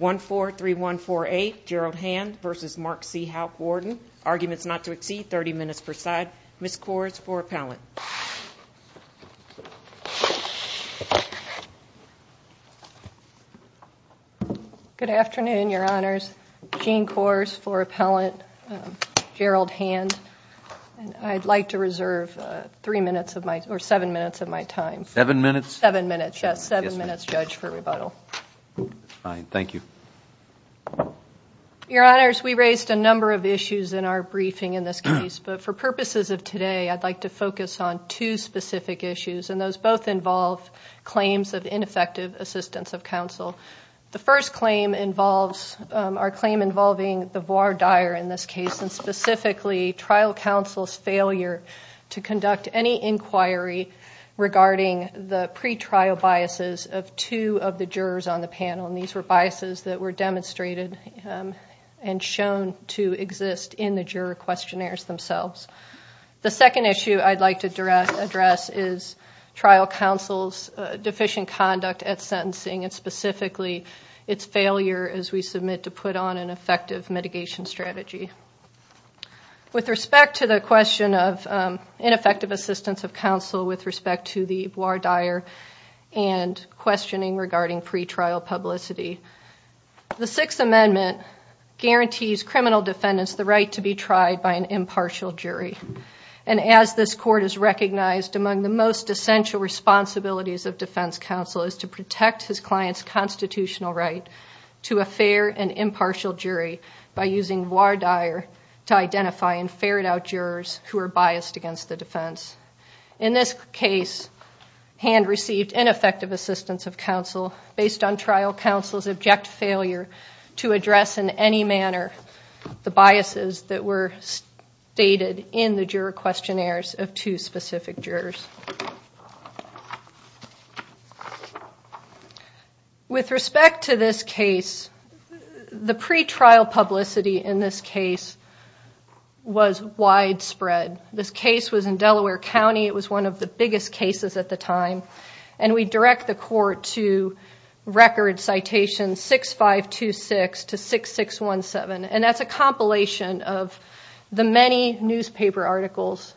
1-4-3-1-4-8, Gerald Hand v. Marc C. Houk-Warden. Arguments not to exceed 30 minutes per side. Ms. Kors for appellant. Good afternoon, Your Honors. Jean Kors for appellant, Gerald Hand. I'd like to reserve three minutes of my, or seven minutes of my time. Seven minutes? Seven Fine, thank you. Your Honors, we raised a number of issues in our briefing in this case, but for purposes of today, I'd like to focus on two specific issues, and those both involve claims of ineffective assistance of counsel. The first claim involves, our claim involving the voir dire in this case, and specifically trial counsel's failure to conduct any inquiry regarding the pretrial biases of two of the jurors on the panel, and these were biases that were demonstrated and shown to exist in the juror questionnaires themselves. The second issue I'd like to address is trial counsel's deficient conduct at sentencing, and specifically its failure as we submit to put on an effective mitigation strategy. With respect to the question of ineffective assistance of counsel with questioning regarding pretrial publicity, the Sixth Amendment guarantees criminal defendants the right to be tried by an impartial jury, and as this court has recognized, among the most essential responsibilities of defense counsel is to protect his client's constitutional right to a fair and impartial jury by using voir dire to identify and ferret out jurors who are of counsel based on trial counsel's object failure to address in any manner the biases that were stated in the juror questionnaires of two specific jurors. With respect to this case, the pretrial publicity in this case was widespread. This case was in Delaware County. It was one of the biggest cases at the time, and we direct the court to record citation 6526 to 6617, and that's a compilation of the many newspaper articles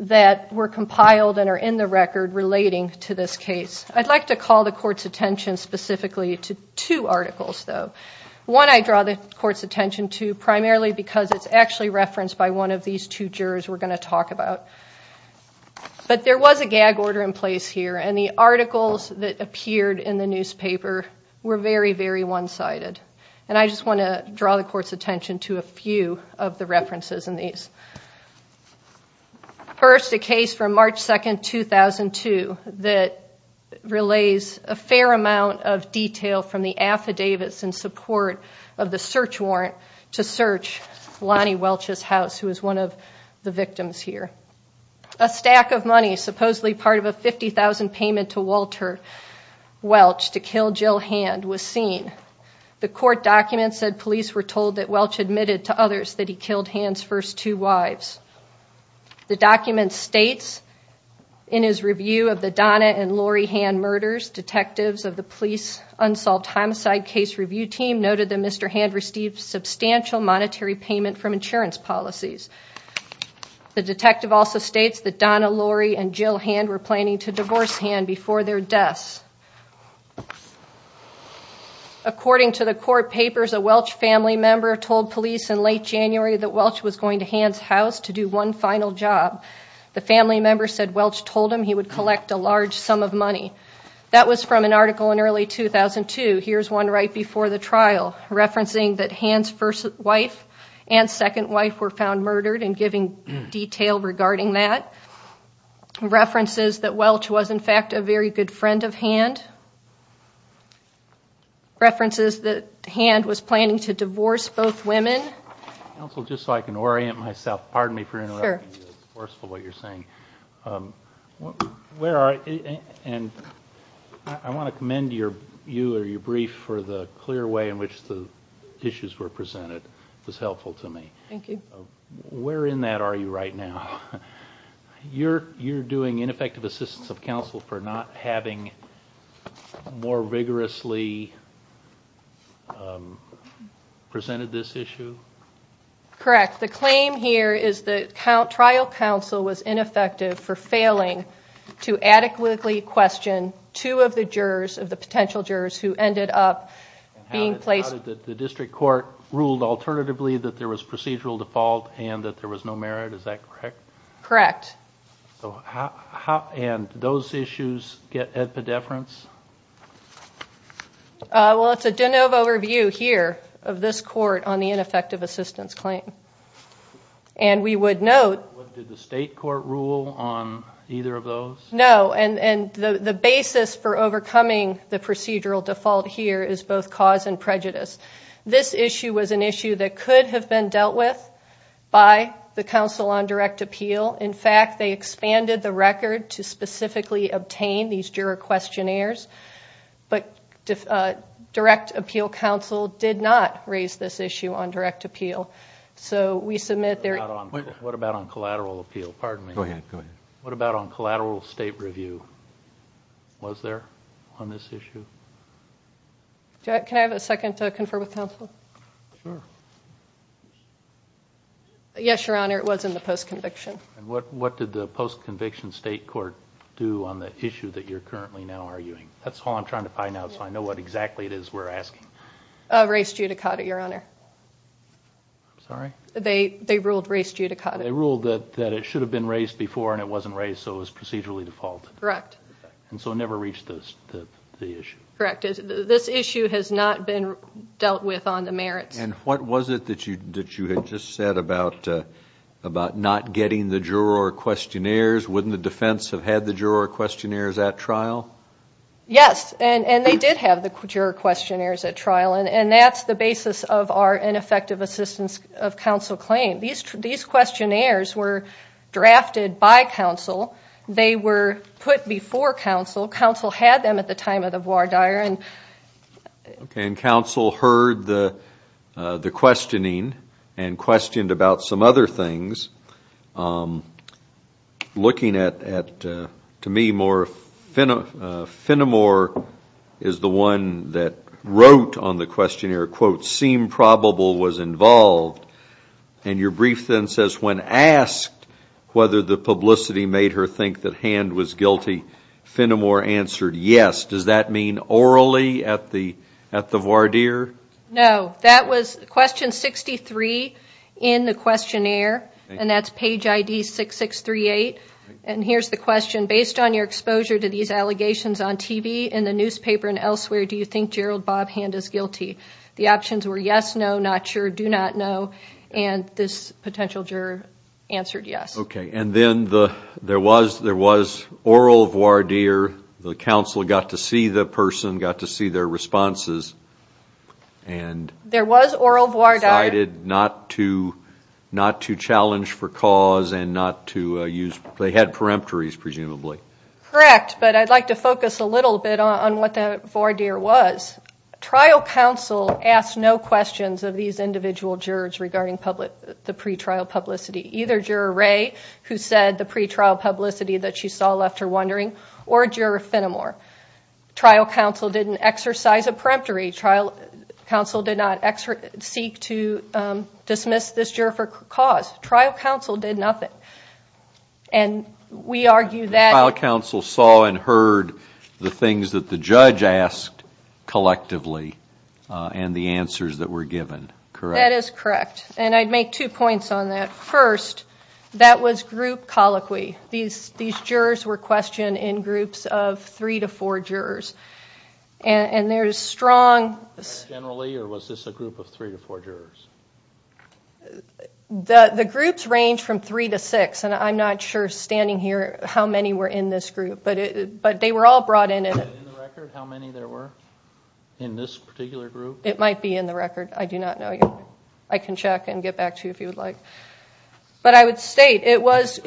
that were compiled and are in the record relating to this case. I'd like to call the court's attention specifically to two articles, though. One I draw the court's attention to primarily because it's actually referenced by one of these two jurors we're going to talk about, but there was a gag order in place here, and the articles that appeared in the newspaper were very, very one-sided, and I just want to draw the court's attention to a few of the references in these. First, a case from March 2nd, 2002 that relays a fair amount of detail from the affidavits in support of the search warrant to search Lonnie Welch's house, who is one of the victims here. A stack of money, supposedly part of a $50,000 payment to Walter Welch to kill Jill Hand, was seen. The court documents said police were told that Welch admitted to others that he killed Hand's first two wives. The document states, in his review of the Donna and Lori Hand murders, detectives of the police unsolved homicide case review team noted that Mr. Hand received substantial monetary payment from insurance policies. The detective also states that Donna, Lori, and Jill Hand were planning to divorce Hand before their deaths. According to the court papers, a Welch family member told police in late January that Welch was going to Hand's house to do one final job. The family member said Welch told him he would collect a large sum of money. That was from an article in early 2002. Here's one right before the trial, referencing that Hand's first wife and second wife were found murdered and giving detail regarding that. References that Welch was in fact a very good friend of Hand. References that Hand was planning to divorce both women. Counsel, just so I can orient myself, pardon me you or your brief for the clear way in which the issues were presented was helpful to me. Thank you. Where in that are you right now? You're doing ineffective assistance of counsel for not having more vigorously presented this issue? Correct. The claim here is that trial counsel was ineffective for who ended up being placed. The district court ruled alternatively that there was procedural default and that there was no merit, is that correct? Correct. Those issues get at the deference? Well it's a de novo review here of this court on the ineffective assistance claim. We would note. Did the state court rule on either of those? No, and the basis for overcoming the procedural default here is both cause and prejudice. This issue was an issue that could have been dealt with by the counsel on direct appeal. In fact, they expanded the record to specifically obtain these juror questionnaires, but direct appeal counsel did not raise this issue on direct appeal. So we submit there. What about on collateral state review? Was there on this issue? Can I have a second to confer with counsel? Yes, your honor, it was in the post-conviction. And what did the post-conviction state court do on the issue that you're currently now arguing? That's all I'm trying to find out so I know what exactly it is we're asking. Race judicata, your honor. They ruled race judicata. They ruled that it should have been raised before and it wasn't raised so it was procedurally default. Correct. And so it never reached this issue. Correct. This issue has not been dealt with on the merits. And what was it that you had just said about not getting the juror questionnaires? Wouldn't the defense have had the juror questionnaires at trial? Yes, and they did have the juror questionnaires at trial and that's the basis of our ineffective assistance of counsel claim. These questionnaires were drafted by counsel. They were put before counsel. Counsel had them at the time of the voir dire. And counsel heard the the questioning and questioned about some other things. Looking at, to me, more Fenimore is the one that wrote on the questionnaire, quote, seem probable was involved. And your brief then says when asked whether the publicity made her think that Hand was guilty, Fenimore answered yes. Does that mean orally at the at the voir dire? No. That was question 63 in the questionnaire and that's page ID 6638. And here's the question. Based on your exposure to these in the newspaper and elsewhere, do you think Gerald Bob Hand is guilty? The options were yes, no, not sure, do not know, and this potential juror answered yes. Okay, and then there was oral voir dire. The counsel got to see the person, got to see their responses, and there was oral voir dire. Decided not to challenge for cause and not to use, they had peremptories presumably. Correct, but I'd like to focus a little bit on what the voir dire was. Trial counsel asked no questions of these individual jurors regarding the pretrial publicity. Either Juror Ray, who said the pretrial publicity that she saw left her wondering, or Juror Fenimore. Trial counsel didn't exercise a peremptory. Trial counsel did not seek to dismiss this juror for cause. Trial counsel saw and heard the things that the judge asked collectively and the answers that were given. Correct. That is correct, and I'd make two points on that. First, that was group colloquy. These jurors were questioned in groups of three to four jurors, and there's strong... Generally, or was this a group of three to four jurors? The groups range from three to six, and I'm not sure standing here how many were in this group, but they were all brought in. In this particular group? It might be in the record. I do not know. I can check and get back to you if you would like, but I would state it was...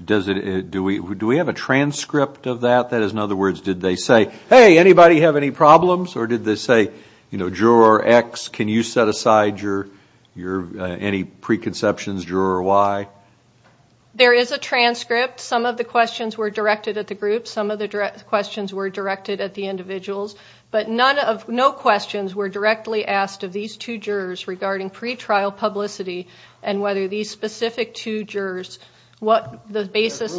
Do we have a transcript of that? That is, in other words, did they say, hey, anybody have any problems? Or did they say, you know, juror X, can you set up questions, juror Y? There is a transcript. Some of the questions were directed at the group. Some of the direct questions were directed at the individuals, but none of... no questions were directly asked of these two jurors regarding pretrial publicity and whether these specific two jurors, what the basis...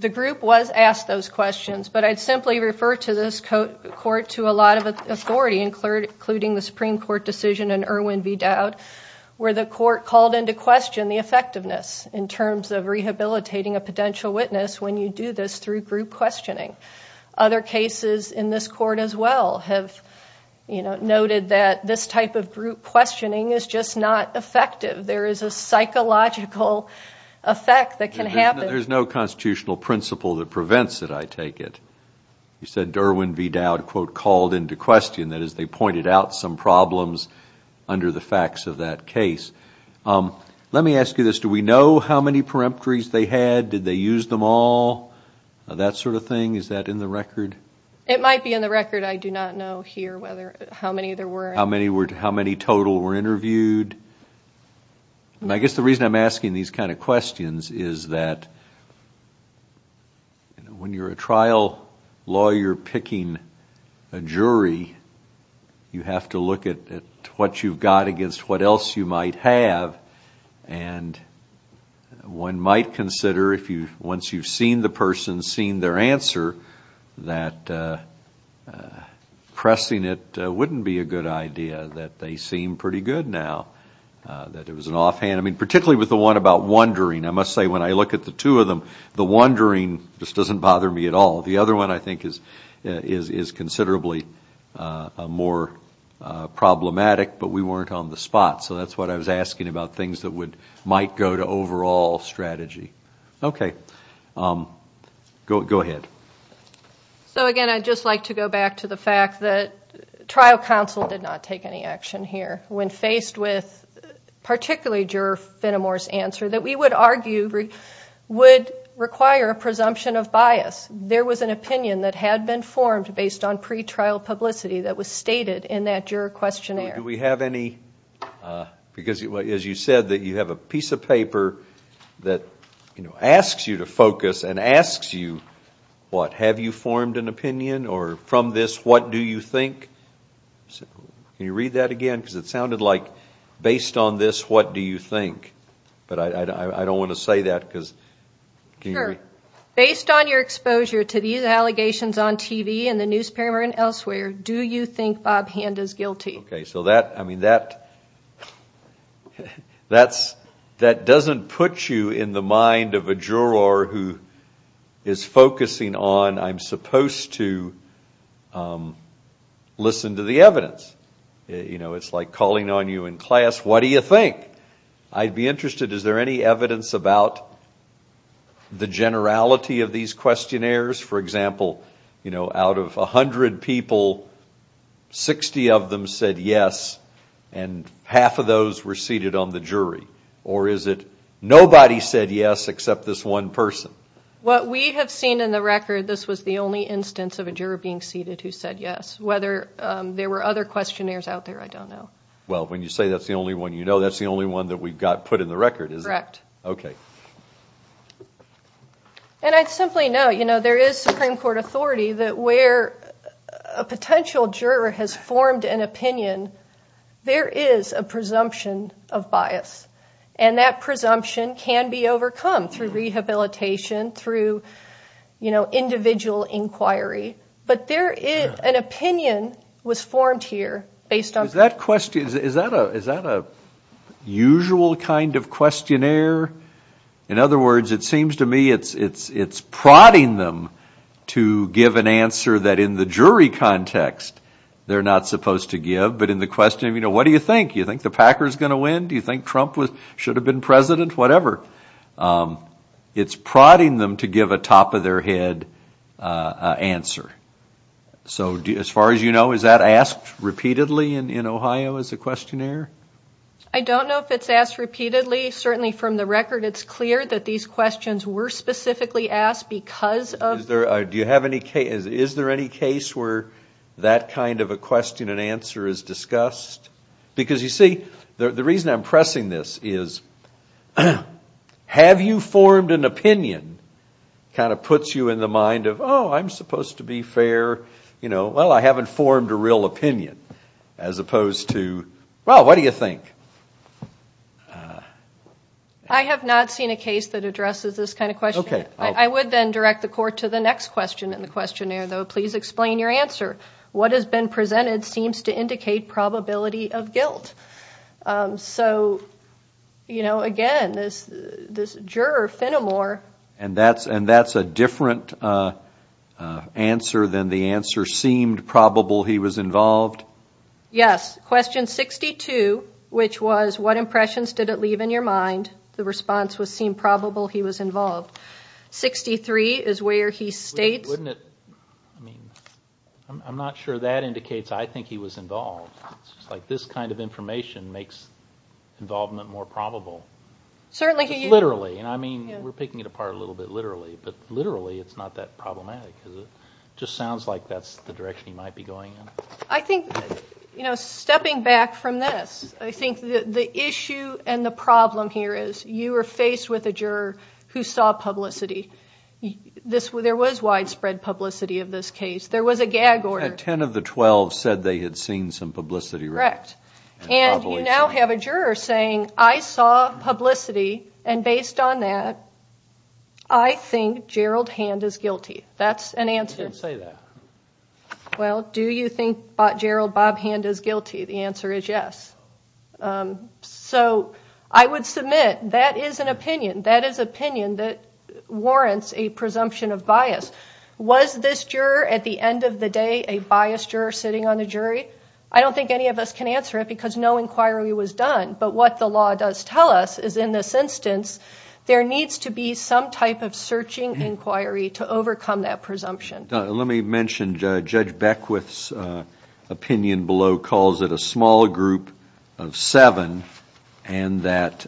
The group was asked those questions, but I'd simply refer to this court to a lot of authority, including the Supreme Court decision in Irwin v. Dowd, where the court called into question the effectiveness in terms of rehabilitating a potential witness when you do this through group questioning. Other cases in this court as well have, you know, noted that this type of group questioning is just not effective. There is a psychological effect that can happen. There's no constitutional principle that prevents it, I take it. You said Irwin v. Dowd, quote, called into question, that is, they pointed out some problems under the facts of that case. Let me ask you this, do we know how many peremptories they had? Did they use them all? That sort of thing, is that in the record? It might be in the record. I do not know here whether... how many there were. How many were... how many total were interviewed? I guess the reason I'm asking these kind of questions is that when you're a trial lawyer picking a what else you might have, and one might consider if you once you've seen the person, seen their answer, that pressing it wouldn't be a good idea, that they seem pretty good now, that it was an offhand. I mean, particularly with the one about wondering. I must say, when I look at the two of them, the wondering just doesn't bother me at all. The other one, I think, is considerably more problematic, but we weren't on the spot. So that's what I was asking about things that would, might go to overall strategy. Okay, go ahead. So again, I'd just like to go back to the fact that trial counsel did not take any action here. When faced with particularly juror Finnemore's answer, that we would argue would require a presumption of bias. There was an opinion that had been formed based on that juror questionnaire. Do we have any, because as you said, that you have a piece of paper that, you know, asks you to focus and asks you, what, have you formed an opinion, or from this, what do you think? Can you read that again? Because it sounded like, based on this, what do you think? But I don't want to say that because... Sure. Based on your exposure to these allegations on TV and the newspaper and elsewhere, do you think Bob Hand is guilty? Okay, so that, I mean, that, that's, that doesn't put you in the mind of a juror who is focusing on, I'm supposed to listen to the evidence. You know, it's like calling on you in class, what do you think? I'd be interested, is there any evidence about the generality of these questionnaires? For example, you know, out of a hundred people, 60 of them said yes, and half of those were seated on the jury, or is it nobody said yes except this one person? What we have seen in the record, this was the only instance of a juror being seated who said yes. Whether there were other questionnaires out there, I don't know. Well, when you say that's the only one you know, that's the only one that we've got put in the record, is it? Correct. Okay. And I simply know, you know, there is Supreme Court authority that where a potential juror has formed an opinion, there is a presumption of bias, and that presumption can be overcome through rehabilitation, through, you know, individual inquiry, but there is, an opinion was formed here based on... Is that a usual kind of questionnaire? In other words, it seems to me it's prodding them to give an answer that in the jury context they're not supposed to give, but in the question, you know, what do you think? You think the Packers gonna win? Do you think Trump should have been president? Whatever. It's prodding them to give a top-of-their-head answer. So as far as you know, is that asked repeatedly in Ohio as a questionnaire? I don't know if it's asked repeatedly. Certainly from the record, it's clear that these questions were specifically asked because of... Do you have any case, is there any case where that kind of a question and answer is discussed? Because you see, the reason I'm pressing this is, have you formed an opinion that puts you in the mind of, oh, I'm supposed to be fair, you know, well, I haven't formed a real opinion, as opposed to, well, what do you think? I have not seen a case that addresses this kind of question. Okay. I would then direct the court to the next question in the questionnaire, though. Please explain your answer. What has been presented seems to indicate probability of guilt. So, you And that's a different answer than the answer, seemed probable he was involved? Yes. Question 62, which was, what impressions did it leave in your mind? The response was, seemed probable he was involved. 63 is where he states... I'm not sure that indicates I think he was involved. It's like, this kind of information makes involvement more probable. Certainly. Literally. And I mean, we're picking it apart a little bit literally, but literally it's not that problematic. It just sounds like that's the direction he might be going in. I think, you know, stepping back from this, I think the issue and the problem here is, you were faced with a juror who saw publicity. There was widespread publicity of this case. There was a gag order. Ten of the twelve said they had seen some publicity. Correct. And you now have a juror saying, I saw publicity, and I think Gerald Hand is guilty. That's an answer. You can't say that. Well, do you think Gerald Bob Hand is guilty? The answer is yes. So, I would submit that is an opinion. That is opinion that warrants a presumption of bias. Was this juror, at the end of the day, a biased juror sitting on the jury? I don't think any of us can answer it because no inquiry was done, but what the law does tell us is in this instance, there needs to be some type of searching inquiry to overcome that presumption. Let me mention Judge Beckwith's opinion below calls it a small group of seven and that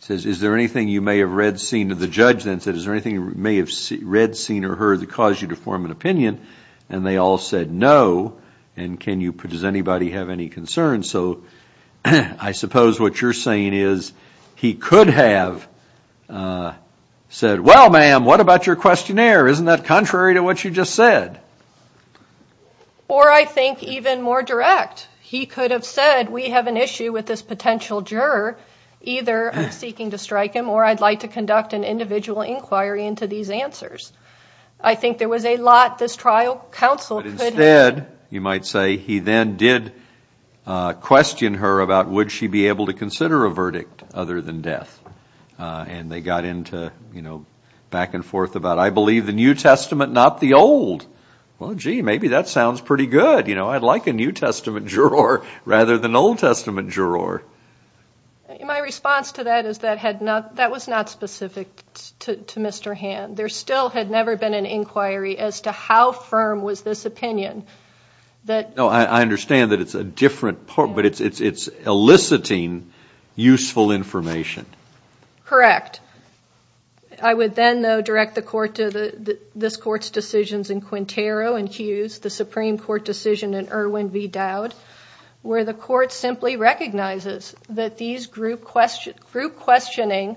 says, is there anything you may have read, seen, or the judge then said, is there anything you may have read, seen, or heard that caused you to form an opinion? And they all said no. And can you, does anybody have any concerns? So, I suppose what you're saying is he could have said, well ma'am, what about your questionnaire? Isn't that contrary to what you just said? Or I think even more direct. He could have said, we have an issue with this potential juror. Either I'm seeking to strike him or I'd like to conduct an individual inquiry into these answers. I think there was a lot this trial counsel said, you might say, he then did question her about would she be able to consider a verdict other than death. And they got into, you know, back and forth about, I believe the New Testament, not the old. Well, gee, maybe that sounds pretty good. You know, I'd like a New Testament juror rather than Old Testament juror. My response to that is that had not, that was not specific to Mr. Hand. There still had never been an inquiry as to how firm was this opinion. No, I understand that it's a different, but it's eliciting useful information. Correct. I would then direct the court to this court's decisions in Quintero and Hughes, the Supreme Court decision in Irwin v. Dowd, where the court simply recognizes that these group questioning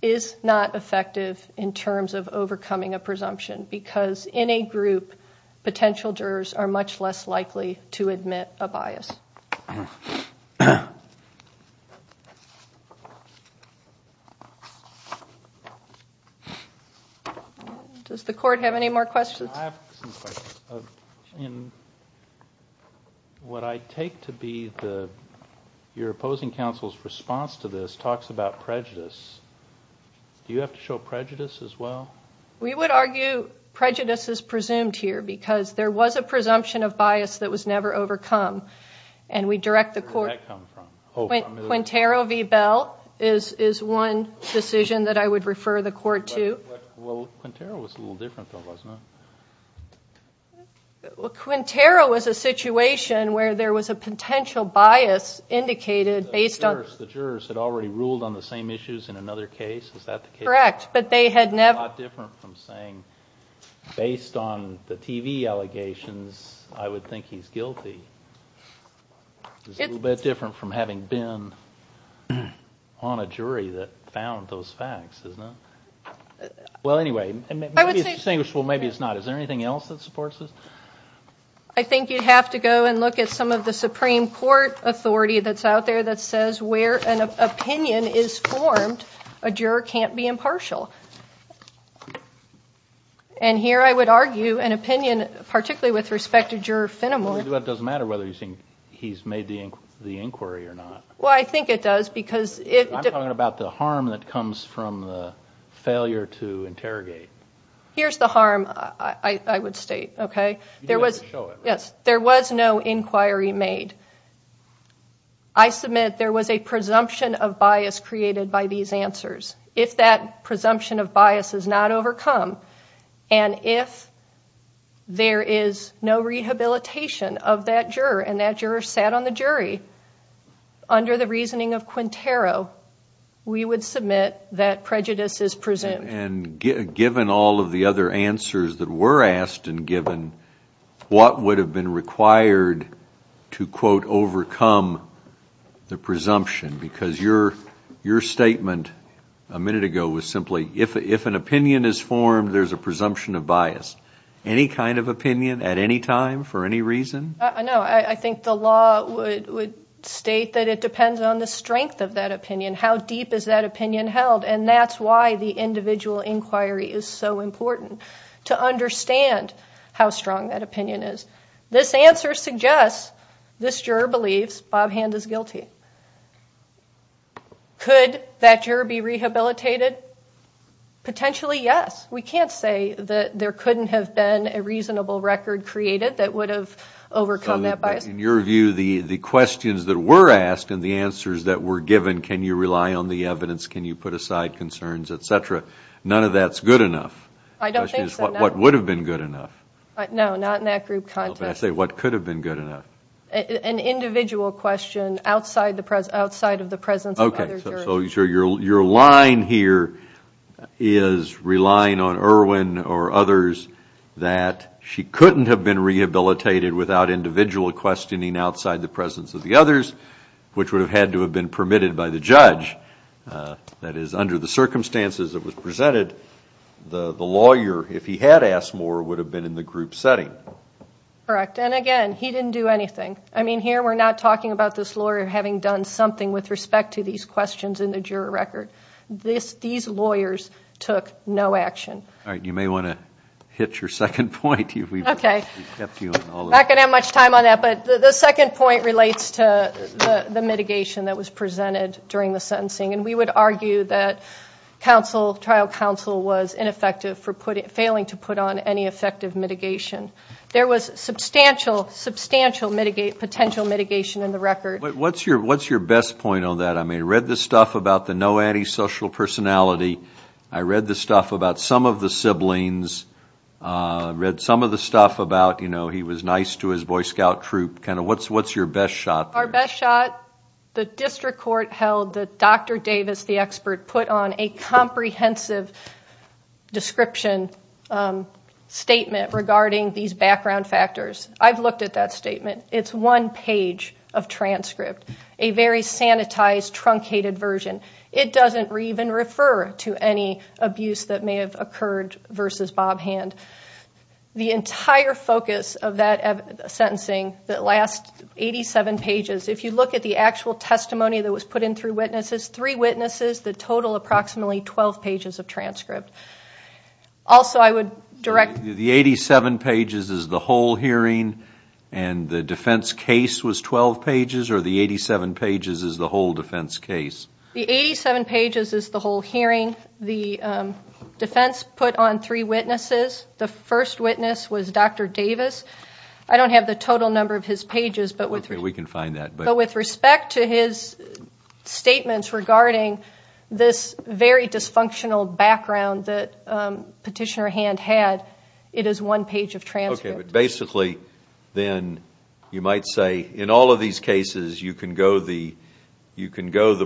is not effective in terms of overcoming a presumption because in a group, potential jurors are much less likely to admit a bias. Does the court have any more questions? I have some questions. In what I take to be your opposing counsel's response to this talks about prejudice. Do you have to show prejudice as well? We would argue prejudice is presumed here because there was a presumption of bias that was never overcome, and we direct the court... Quintero v. Bell is one decision that I would refer the court to. Quintero was a situation where there was a potential bias indicated based on... The jurors had already ruled on the same issues in another case, is that the case? Correct, but they had never... Based on the TV allegations, I would think he's guilty. It's a little bit different from having been on a jury that found those facts, isn't it? Well, anyway, maybe it's distinguishable, maybe it's not. Is there have to go and look at some of the Supreme Court authority that's out there that says where an opinion is formed, a juror can't be impartial. And here I would argue an opinion, particularly with respect to juror Finnemore... It doesn't matter whether you think he's made the inquiry or not. Well, I think it does because... I'm talking about the harm that comes from the failure to interrogate. Here's the harm I would state, okay? There was no inquiry made. I submit there was a presumption of bias created by these answers. If that presumption of bias is not overcome, and if there is no rehabilitation of that juror, and that juror sat on the jury under the reasoning of Quintero, we would admit that prejudice is presumed. And given all of the other answers that were asked and given, what would have been required to, quote, overcome the presumption? Because your statement a minute ago was simply, if an opinion is formed, there's a presumption of bias. Any kind of opinion at any time, for any reason? No, I think the law would state that it depends on the strength of that opinion. How deep is that opinion held? And that's why the individual inquiry is so important, to understand how strong that opinion is. This answer suggests this juror believes Bob Hand is guilty. Could that juror be rehabilitated? Potentially, yes. We can't say that there couldn't have been a reasonable record created that would have overcome that bias. In your view, the questions that were given, can you rely on the evidence, can you put aside concerns, etc., none of that's good enough. I don't think so, no. What would have been good enough? No, not in that group context. What could have been good enough? An individual question outside of the presence of other jurors. Okay, so your line here is relying on Irwin or others that she couldn't have been rehabilitated without individual questioning outside the presence of the others, which would have had to have been permitted by the judge. That is, under the circumstances that was presented, the lawyer, if he had asked more, would have been in the group setting. Correct, and again, he didn't do anything. I mean, here we're not talking about this lawyer having done something with respect to these questions in the juror record. These lawyers took no action. All right, you may want to hit your second point. I'm not going to have much time on that, but the second point relates to the that was presented during the sentencing, and we would argue that trial counsel was ineffective for failing to put on any effective mitigation. There was substantial, substantial potential mitigation in the record. What's your best point on that? I mean, I read the stuff about the no antisocial personality. I read the stuff about some of the siblings. I read some of the stuff about, you know, he was nice to his Boy Scout troop. Kind of, what's your best shot? Our best shot, the district court held that Dr. Davis, the expert, put on a comprehensive description statement regarding these background factors. I've looked at that statement. It's one page of transcript, a very sanitized, truncated version. It doesn't even refer to any abuse that may have occurred versus Bob Hand. The entire focus of that sentencing, that last 87 pages, if you look at the actual testimony that was put in through witnesses, three witnesses, the total approximately 12 pages of transcript. Also, I would direct... The 87 pages is the whole hearing, and the defense case was 12 pages, or the 87 pages is the whole defense case? The 87 pages is the whole defense put on three witnesses. The first witness was Dr. Davis. I don't have the total number of his pages, but with respect to his statements regarding this very dysfunctional background that Petitioner Hand had, it is one page of transcript. Okay, but basically, then, you might say, in all of these cases, you can go the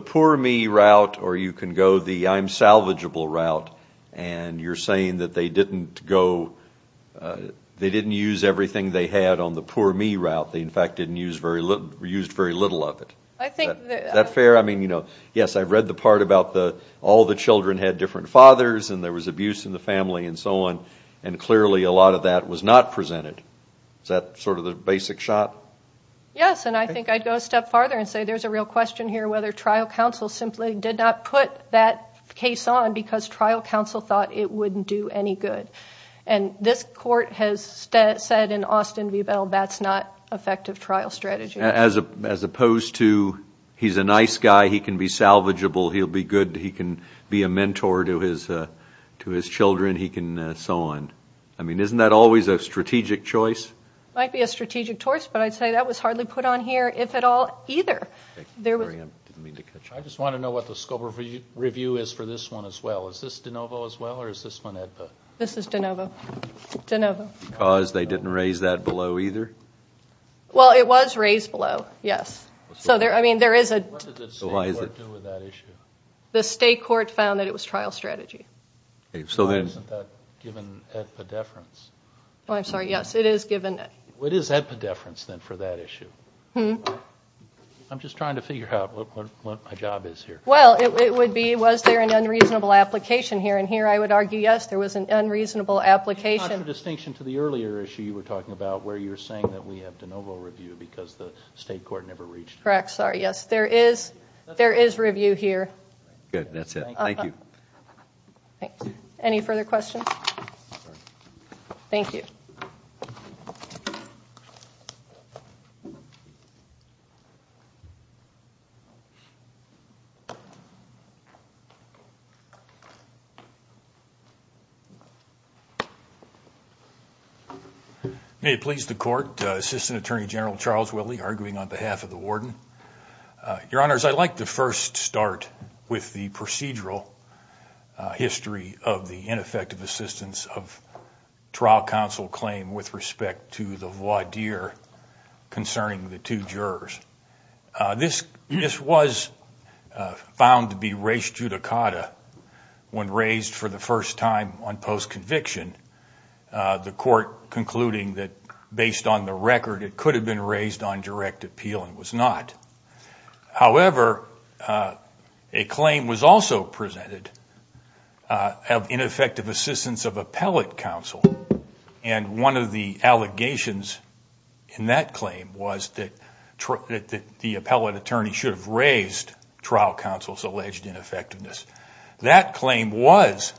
poor me route, or you can go the time-salvageable route, and you're saying that they didn't go... They didn't use everything they had on the poor me route. They, in fact, used very little of it. I think... Is that fair? I mean, you know, yes, I've read the part about all the children had different fathers, and there was abuse in the family, and so on, and clearly, a lot of that was not presented. Is that sort of the basic shot? Yes, and I think I'd go a step farther and say there's a real question here whether trial counsel simply did not put that case on because trial counsel thought it wouldn't do any good, and this court has said in Austin v. Bell that's not effective trial strategy. As opposed to, he's a nice guy, he can be salvageable, he'll be good, he can be a mentor to his children, he can... so on. I mean, isn't that always a strategic choice? Might be a strategic choice, but I'd say that was hardly put on here, if at all, either. I just want to know what the scope of review is for this one as well. Is this DeNovo as well, or is this one AEDPA? This is DeNovo. Because they didn't raise that below, either? Well, it was raised below, yes. So there, I mean, there is a... The state court found that it was trial strategy. I'm sorry, yes, it is given... What is epidefference, then, for that issue? Hmm? I'm just trying to figure out what my job is here. Well, it would be, was there an unreasonable application here, and here I would argue, yes, there was an unreasonable application. It's not a distinction to the earlier issue you were talking about, where you're saying that we have DeNovo review because the state court never reached... Correct, sorry, yes, there is, there is review here. Good, that's it, thank you. Any further questions? Thank you. May it please the court, Assistant Attorney General Charles Welley arguing on behalf of the Warden. Your Honors, I'd like to first start with the procedural history of the ineffective assistance of trial counsel claim with respect to the voir dire concerning the two jurors. This was found to be res judicata when raised for the first time on post-conviction, the court concluding that, based on the record, it could have been raised on direct appeal and was not. However, a claim was also presented of ineffective assistance of appellate counsel, and one of the allegations in that claim was that the appellate attorney should have raised trial counsel's alleged ineffectiveness. That claim was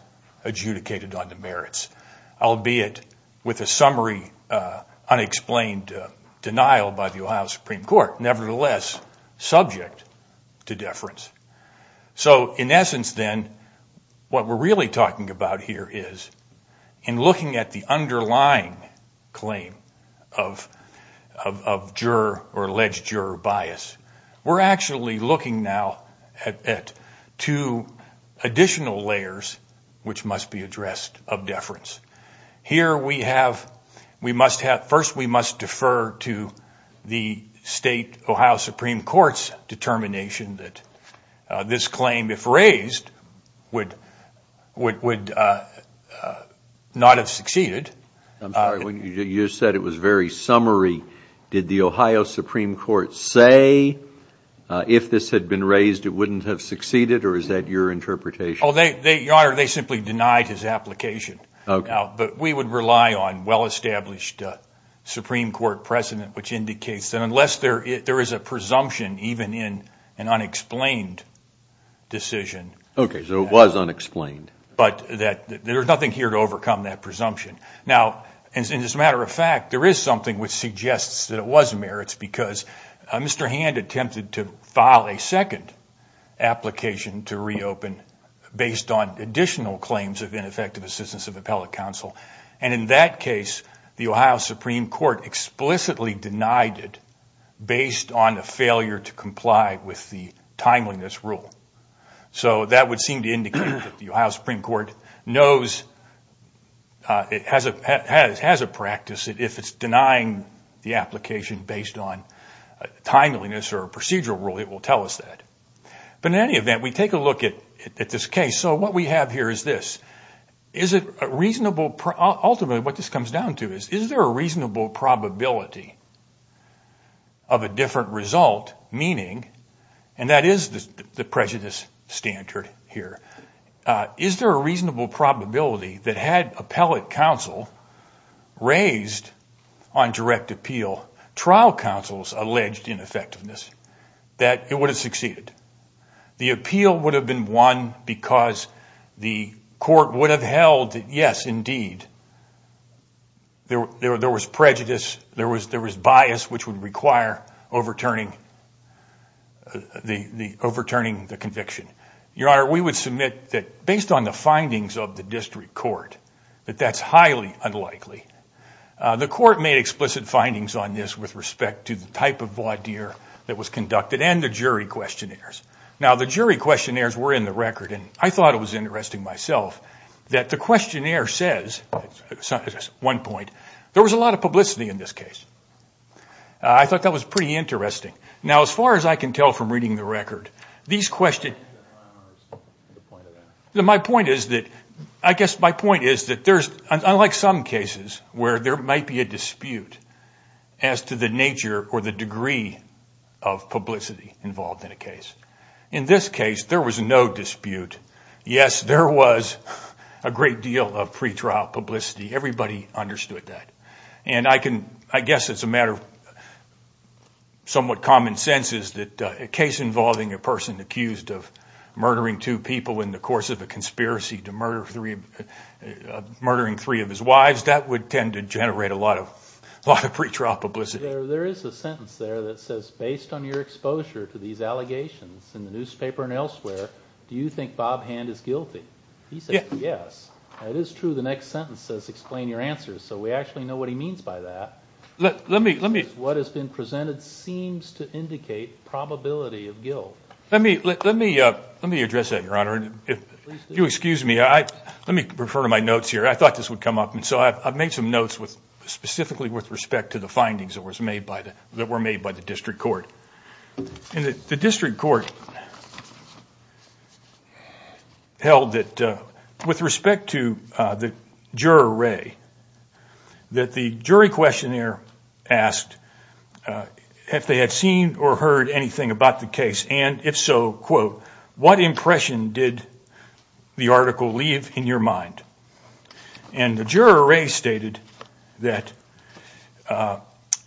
adjudicated on demerits, albeit with a summary unexplained denial by the Supreme Court, nevertheless subject to deference. So, in essence then, what we're really talking about here is, in looking at the underlying claim of juror or alleged juror bias, we're actually looking now at two additional layers which must be addressed of deference. Here we have, we must have, first we must defer to the state Ohio Supreme Court's determination that this claim, if raised, would not have succeeded. I'm sorry, you said it was very summary. Did the Ohio Supreme Court say, if this had been raised, it wouldn't have succeeded, or is that your interpretation? Oh, Your Honor, they simply denied his application. But we would rely on well-established Supreme Court precedent, which indicates that unless there is a presumption, even in an unexplained decision. Okay, so it was unexplained. But that there's nothing here to overcome that presumption. Now, as a matter of fact, there is something which suggests that it was merits, because Mr. Hand attempted to file a second application to reopen based on the basis of appellate counsel. And in that case, the Ohio Supreme Court explicitly denied it based on a failure to comply with the timeliness rule. So that would seem to indicate that the Ohio Supreme Court knows, it has a practice, that if it's denying the application based on timeliness or a procedural rule, it will tell us that. But in any event, we take a look at this case. So what we have here is this. Ultimately, what this comes down to is, is there a reasonable probability of a different result, meaning, and that is the prejudice standard here, is there a reasonable probability that had appellate counsel raised on direct appeal, trial counsels alleged ineffectiveness, that it would have succeeded? The appeal would have been won because the court would have held that, yes, indeed, there was prejudice, there was bias, which would require overturning the conviction. Your Honor, we would submit that based on the findings of the district court, that that's highly unlikely. The court made explicit findings on this with respect to the type of voir dire that was conducted and the jury questionnaires. Now, the jury questionnaires were in the record, and I thought it was interesting myself that the questionnaire says, at one point, there was a lot of publicity in this case. I thought that was pretty interesting. Now, as far as I can tell from reading the record, these questions, my point is that, I guess my point is that there's, unlike some cases where there might be a dispute as to the degree of publicity involved in a case. In this case, there was no dispute. Yes, there was a great deal of pretrial publicity. Everybody understood that, and I guess it's a matter of somewhat common sense that a case involving a person accused of murdering two people in the course of a conspiracy to murder three of his wives, that would tend to generate a lot of publicity. Now, there is a sentence there that says, based on your exposure to these allegations in the newspaper and elsewhere, do you think Bob Hand is guilty? He said yes. It is true the next sentence says explain your answers, so we actually know what he means by that. What has been presented seems to indicate probability of guilt. Let me address that, Your Honor. If you excuse me, let me refer to my notes here. I thought this would come up, and so I've made some notes specifically with respect to the findings that were made by the District Court. The District Court held that, with respect to the juror, Ray, that the jury questionnaire asked if they had seen or heard anything about the case, and if so, quote, what impression did the article leave in your mind? And the juror, Ray, stated that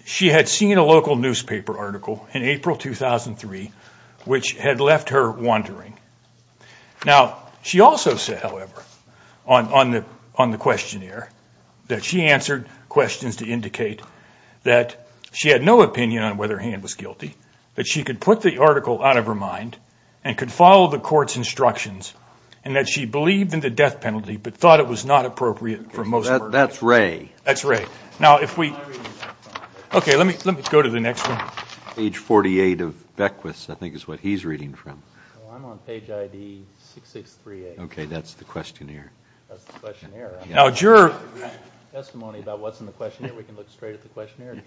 she had seen a local newspaper article in April 2003, which had left her wondering. Now, she also said, however, on the questionnaire, that she answered questions to indicate that she had no opinion on whether Hand was guilty, that she could put the article out of her mind, and could follow the court's instructions, and that she believed in the death penalty, but thought it was not appropriate for most murderers. That's Ray. That's Ray. Now, if we, okay, let me go to the next one. Page 48 of Beckwith's, I think, is what he's reading from. I'm on page ID 6638. Okay, that's the questionnaire. Now, juror, testimony about what's in the questionnaire, we can look straight at the questionnaire.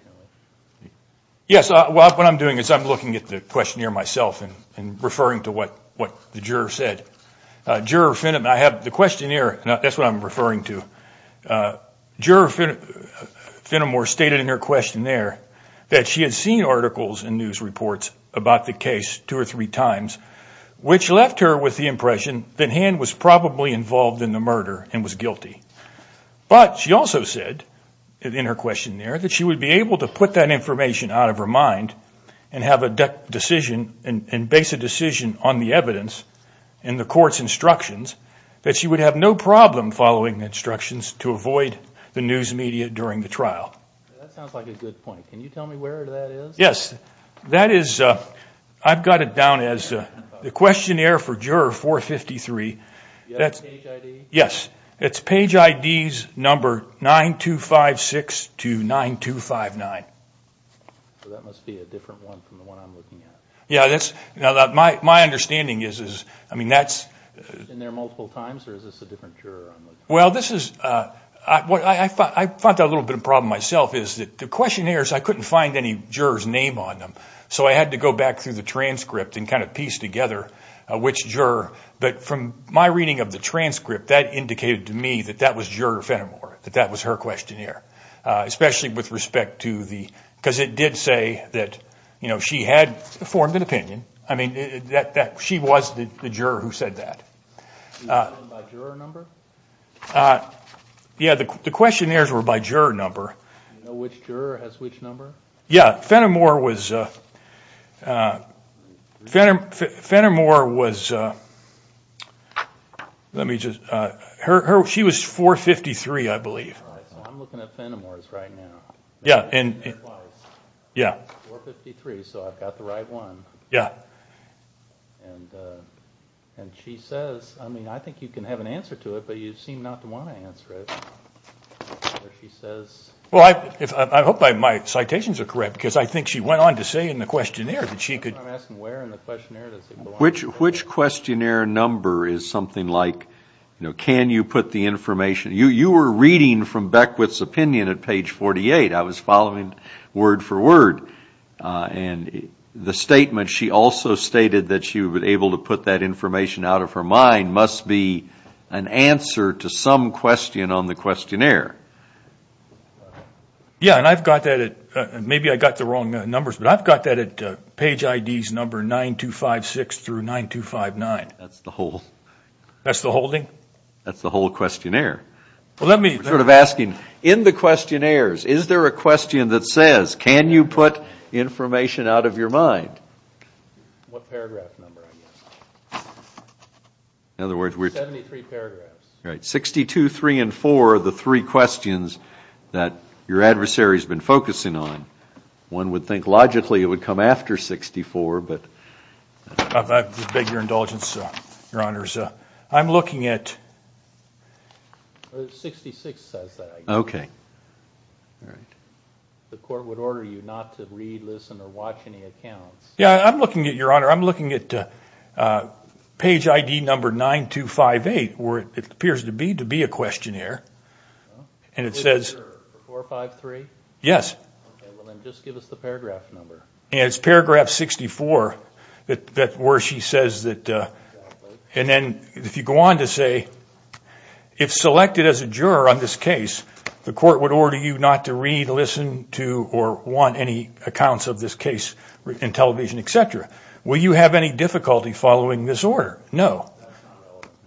Yes, what I'm doing is I'm looking at the questionnaire myself, and referring to what the juror said. Juror Finham, I have the questionnaire, that's what I'm referring to. Juror Finham stated in her questionnaire that she had seen articles and news reports about the case two or three times, which left her with the impression that Hand was probably involved in the murder, and was guilty. But, she also said, in her questionnaire, that she would be able to put that information out of her mind, and have a decision, and base a decision on the evidence, and the court's instructions, that she would have no problem following instructions to avoid the news media during the trial. Yes, that is, I've got it down as the questionnaire for juror 453. That's, yes, it's page IDs number 9256 to 9259. Yeah, that's, you know, my understanding is, I mean, that's, well, this is, I thought a little bit of problem myself, is that the questionnaires, I couldn't find any jurors name on them, so I had to go back through the transcript, and kind of piece together which juror, but from my reading of the transcript, that indicated to me that that was juror Fenimore, that that was her questionnaire, especially with respect to the, because it did say that, you know, she had formed an opinion. I mean, that she was the juror who said that. Yeah, the questionnaires were by juror number. Yeah, Fenimore was, Fenimore was, let me just, her, she was 453, I think. And she says, I mean, I think you can have an answer to it, but you seem not to want to answer it. Well, I hope my citations are correct, because I think she went on to say in the questionnaire that she could... Which questionnaire number is something like, you know, can you put the information, you were reading from Beckwith's opinion at page 48, I was following word-for-word, and the stated that she was able to put that information out of her mind must be an answer to some question on the questionnaire. Yeah, and I've got that at, maybe I got the wrong numbers, but I've got that at page IDs number 9256 through 9259. That's the whole... That's the holding? That's the whole questionnaire. Well, let me... We're sort of asking, in the questionnaires, is there a information out of your mind? In other words, we're... Right, 62, 3, and 4 are the three questions that your adversary has been focusing on. One would think logically it would come after 64, but... I beg your indulgence, Your Honors. I'm Yeah, I'm looking at, Your Honor, I'm looking at page ID number 9258, where it appears to be to be a questionnaire, and it says... Yes. It's paragraph 64 that where she says that... And then if you go on to say, if selected as a juror on this accounts of this case in television, etc., will you have any difficulty following this order? No.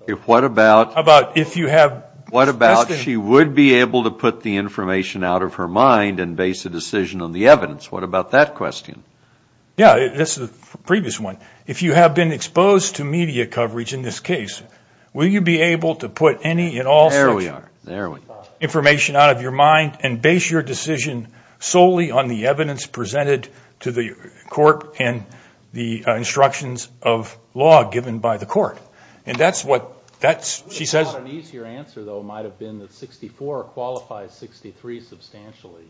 If what about... About if you have... What about she would be able to put the information out of her mind and base a decision on the evidence? What about that question? Yeah, this is the previous one. If you have been exposed to media coverage in this case, will you be able to put any and all... There we are, there we... Information out of your mind and base your decision solely on the evidence presented to the court and the instructions of law given by the court. And that's what that's... She says... An easier answer, though, might have been that 64 qualifies 63 substantially.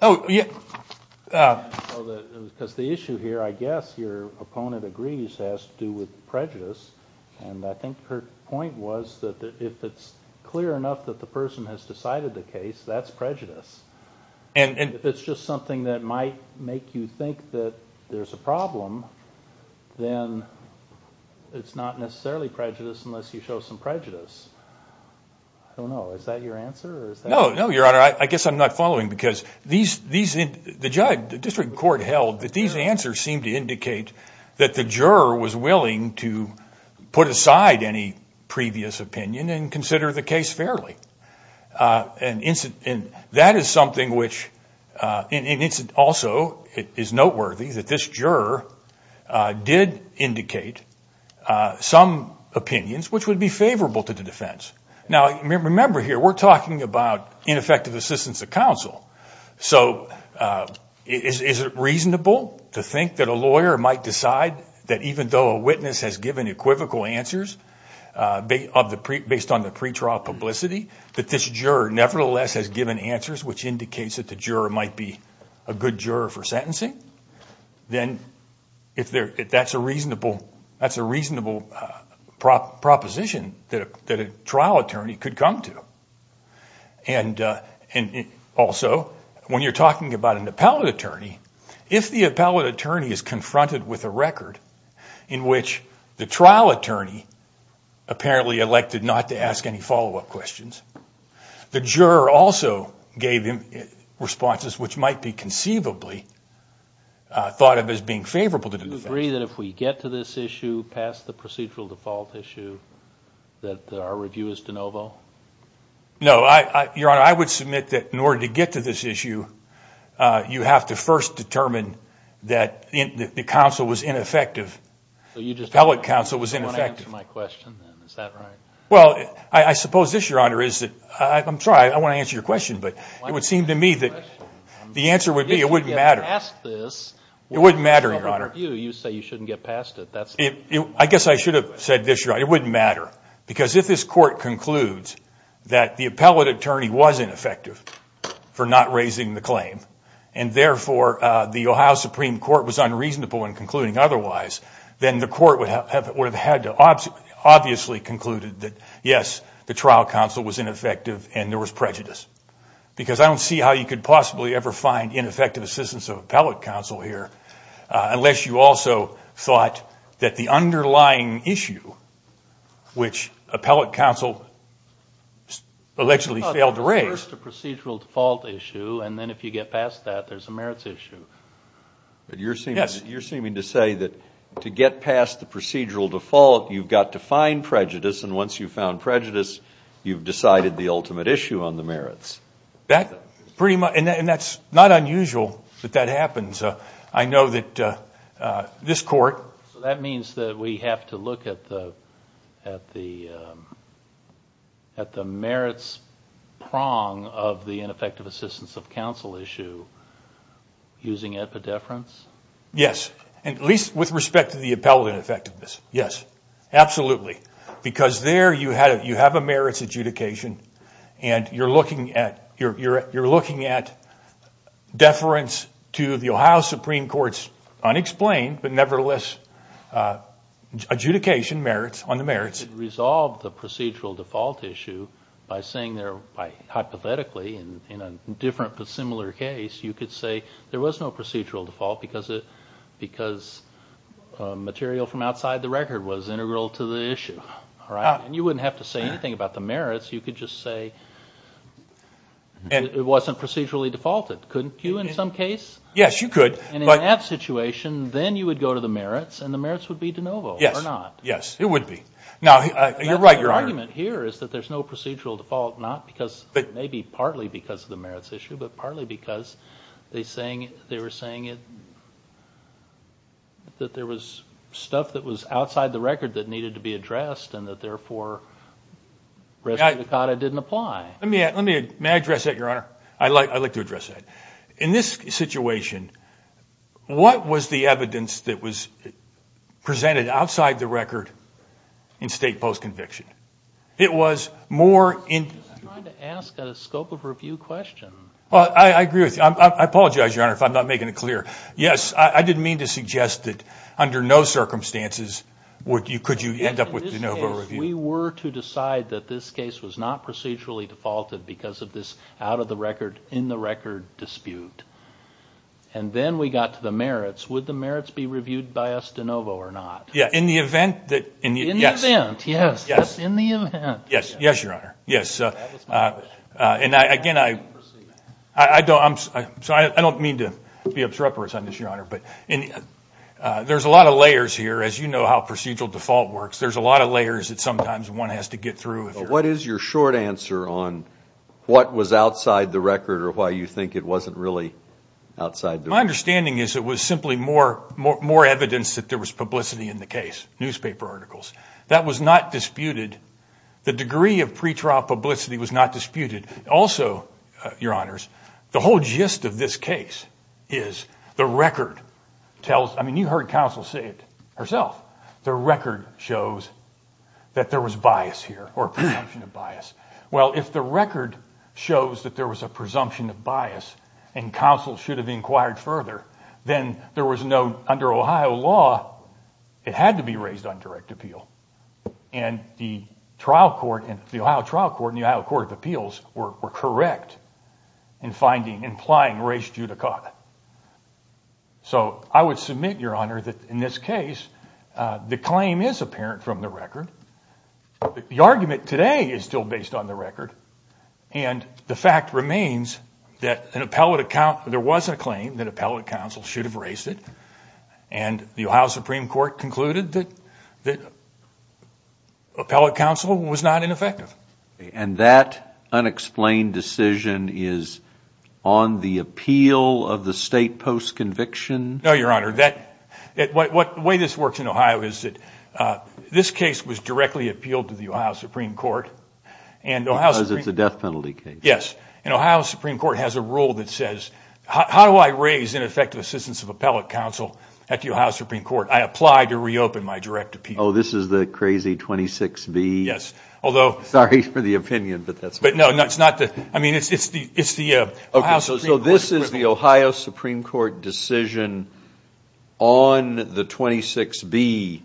Oh, yeah. Because the issue here, I guess, your opponent agrees has to do with prejudice, and I think her point was that if it's clear enough that the person has decided the case, that's prejudice. And if it's just something that might make you think that there's a problem, then it's not necessarily prejudice unless you show some prejudice. I don't know. Is that your answer? No, no, your honor. I guess I'm not following because these... The judge... The district court held that these answers seem to indicate that the juror was willing to put aside any previous opinion and consider the case fairly. And that is something which... And it's also... It is noteworthy that this juror did indicate some opinions which would be favorable to the defense. Now, remember here, we're talking about ineffective assistance of counsel. So is it reasonable to think that a lawyer might decide that even though a witness has given equivocal answers based on the pretrial publicity, that this juror nevertheless has given answers which indicates that the juror might be a good juror for sentencing? Then if that's a reasonable proposition that a trial attorney could come to. And also, when you're talking about an appellate attorney, if the appellate attorney is confronted with a record in which the trial attorney apparently elected not to ask any follow-up questions, the juror also gave him responses which might be conceivably thought of as being favorable to the defense. Do you agree that if we get to this issue past the procedural default issue, that our review is de novo? No, your honor. I would submit that in order to get to this issue, you have to first determine that the counsel was ineffective. The appellate counsel was ineffective. Well, I suppose this, your honor, is that... I'm sorry, I want to answer your question, but it would seem to me that the answer would be it wouldn't matter. It wouldn't matter, your honor. I guess I should have said this, your honor, it wouldn't matter. Because if this court concludes that the Ohio Supreme Court was unreasonable in concluding otherwise, then the court would have had to obviously concluded that yes, the trial counsel was ineffective and there was prejudice. Because I don't see how you could possibly ever find ineffective assistance of appellate counsel here, unless you also thought that the underlying issue, which appellate counsel allegedly failed to raise... First a procedural default issue, and then if you get past that, there's a merits issue. But you're seeming to say that to get past the procedural default, you've got to find prejudice, and once you've found prejudice, you've decided the ultimate issue on the merits. That's pretty much... and that's not unusual that that happens. I know that this court... That means that we have to look at the merits prong of the issue using epidefference? Yes, at least with respect to the appellate effectiveness. Yes, absolutely. Because there you have a merits adjudication, and you're looking at deference to the Ohio Supreme Court's unexplained, but nevertheless adjudication merits on the merits. Resolve the procedural default issue by saying there, hypothetically in a different but similar case, you could say there was no procedural default because material from outside the record was integral to the issue. You wouldn't have to say anything about the merits, you could just say it wasn't procedurally defaulted, couldn't you in some case? Yes, you could. In that situation, then you would go to the merits, and the merits would be de novo or not. Yes, it would be. Now, you're right, Your Honor. The argument here is that there's no procedural default, not because, maybe partly because of the merits issue, but partly because they were saying that there was stuff that was outside the record that needed to be addressed, and that therefore Resolute Decada didn't apply. May I address that, Your Honor? I'd like to address that. In this situation, what was the evidence that was more... I'm trying to ask a scope of review question. Well, I agree with you. I apologize, Your Honor, if I'm not making it clear. Yes, I didn't mean to suggest that under no circumstances could you end up with de novo review. If we were to decide that this case was not procedurally defaulted because of this out-of-the-record, in-the-record dispute, and then we got to the merits, would the merits be reviewed by us de novo or not? Yes, in the event that... In the event, yes. Yes, Your Honor, yes. And again, I don't mean to be obtruperous on this, Your Honor, but there's a lot of layers here. As you know how procedural default works, there's a lot of layers that sometimes one has to get through. What is your short answer on what was outside the record or why you think it wasn't really outside the record? My understanding is it was simply more evidence that there was publicity in the case, newspaper articles. That was not disputed. The degree of pretrial publicity was not disputed. Also, Your Honors, the whole gist of this case is the record tells... I mean, you heard counsel say it herself. The record shows that there was bias here or presumption of bias. Well, if the record shows that there was a presumption of bias, there was no... Under Ohio law, it had to be raised on direct appeal. And the trial court in... The Ohio trial court and the Ohio Court of Appeals were correct in finding, implying race judicata. So I would submit, Your Honor, that in this case, the claim is apparent from the record. The argument today is still based on the record. And the fact remains that an appellate account... There was a claim that appellate counsel should have raised it. And the Ohio Supreme Court concluded that appellate counsel was not ineffective. And that unexplained decision is on the appeal of the state post-conviction? No, Your Honor, that... The way this works in Ohio is that this case was directly appealed to the Ohio Supreme Court. Because it's a death penalty case. Yes. And Ohio Supreme Court has a rule that says, how do I raise ineffective assistance of appellate counsel at the Ohio Supreme Court? I apply to reopen my direct appeal. Oh, this is the crazy 26B? Yes. Although... Sorry for the opinion, but that's... But no, that's not the... I mean, it's the Ohio Supreme Court... So this is the Ohio Supreme Court decision on the 26B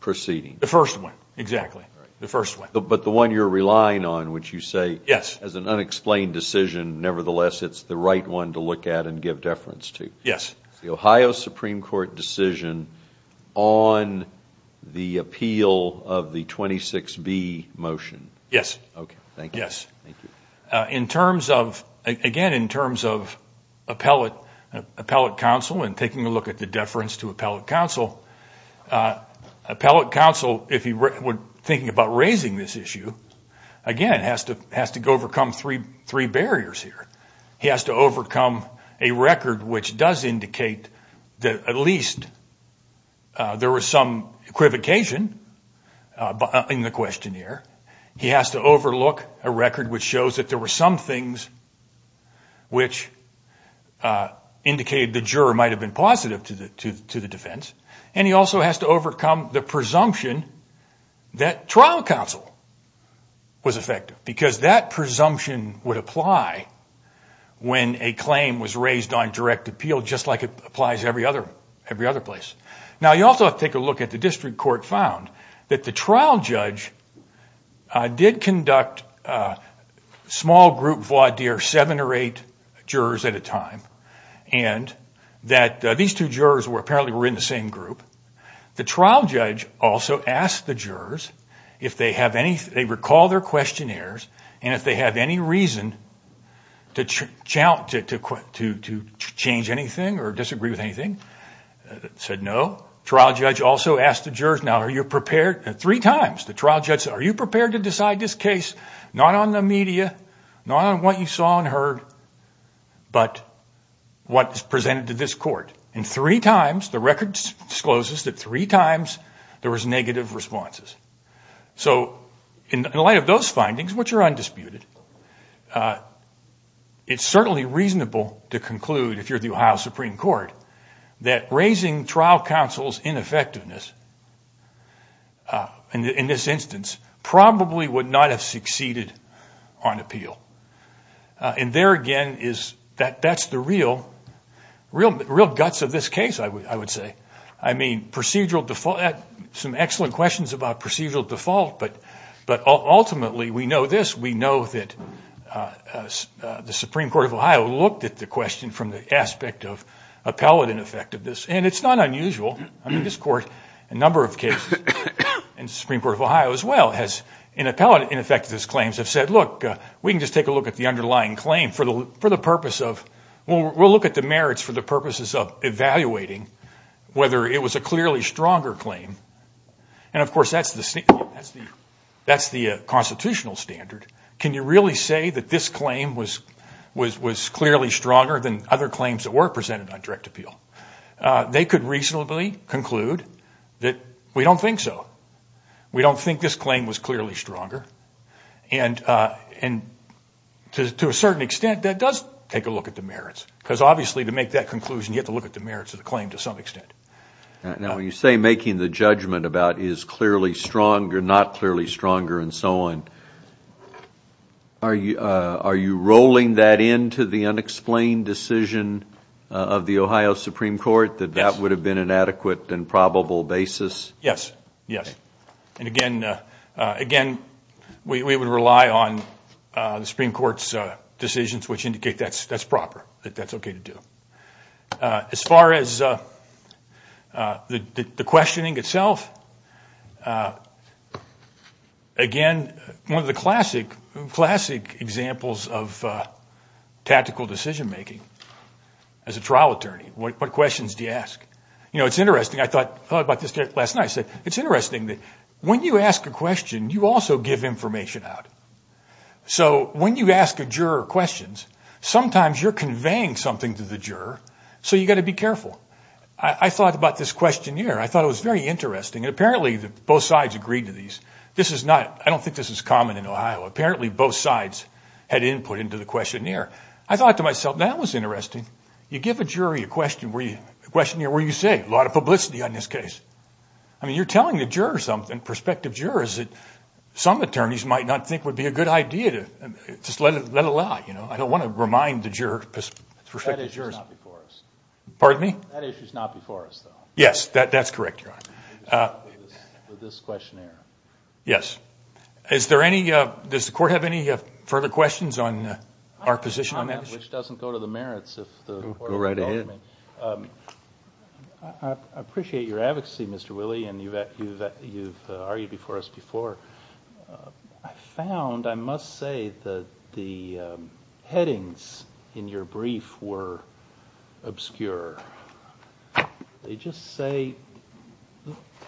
proceeding? The first one, exactly. The first one. But the one you're relying on, which you say, as an unexplained decision, nevertheless, it's the right one to look at and give deference to. Yes. The Ohio Supreme Court decision on the appeal of the 26B motion. Yes. Okay. Thank you. Yes. In terms of... Again, in terms of appellate counsel and taking a look at the deference to appellate counsel, appellate counsel, if he were thinking about raising this issue, again, has to overcome three barriers here. He has to overcome a record which does indicate that at least there was some equivocation in the question here. He has to overlook a record which shows that there were some things which indicated the juror might have been positive to the defense. And he also has to overcome the presumption that trial counsel was effective because that presumption would apply when a claim was raised on direct appeal just like it applies every other place. Now, you also have to take a look at the district court found that the trial judge did conduct small group voir dire, seven or eight jurors at a time, and that these two jurors were apparently were in the same group. The trial judge also asked the jurors if they have any... they recall their questionnaires, and if they have any reason to challenge... to change anything or disagree with anything, said no. Trial judge also asked the jurors, now, are you prepared? Three times the trial judge said, are you prepared to decide this case not on the media, not on what you saw and heard, but what is presented to this court. And three times, the record discloses that three times there was negative responses. So in the light of those findings, which are undisputed, it's certainly reasonable to conclude, if you're the Ohio Supreme Court, that raising trial counsel's ineffectiveness in this instance probably would not have succeeded on appeal. And there again is... that's the real guts of this case, I would say. I mean, procedural default... some excellent questions about procedural default, but ultimately, we know this. We know that the Supreme Court of Ohio looked at the question from the aspect of appellate ineffectiveness, and it's not unusual. I mean, this court, a lot of people who have appellate ineffectiveness claims have said, look, we can just take a look at the underlying claim for the purpose of... well, we'll look at the merits for the purposes of evaluating whether it was a clearly stronger claim. And of course, that's the constitutional standard. Can you really say that this claim was clearly stronger than other claims that were presented on direct appeal? They could reasonably conclude that we don't think so. We don't think this claim was clearly stronger. And to a certain extent, that does take a look at the merits, because obviously, to make that conclusion, you have to look at the merits of the claim to some extent. Now, when you say making the judgment about is clearly stronger, not clearly stronger, and so on, are you rolling that into the unexplained decision of the Ohio Supreme Court, that that would have been an adequate and reasonable decision? Yes. And again, we would rely on the Supreme Court's decisions which indicate that's proper, that that's okay to do. As far as the questioning itself, again, one of the classic examples of tactical decision-making as a trial attorney, what questions do you ask? It's interesting. I thought about this last night. I said, it's interesting that when you ask a question, you also give information out. So when you ask a juror questions, sometimes you're conveying something to the juror, so you've got to be careful. I thought about this questionnaire. I thought it was very interesting. Apparently, both sides agreed to these. I don't think this is common in Ohio. Apparently, both sides had input into the questionnaire. I thought to myself, that was interesting. You give a jury a question, a lot of publicity on this case. I mean, you're telling the juror something, prospective jurors, that some attorneys might not think would be a good idea to just let it lie. I don't want to remind the jurors. Pardon me? That issue is not before us. Yes, that's correct, Your Honor. This questionnaire. Yes. Does the court have any further questions on our position on that? Which doesn't go to the merits. Go right ahead. I appreciate your advocacy, Mr. Willey, and you've argued before us before. I found, I must say, that the headings in your brief were obscure. They just say,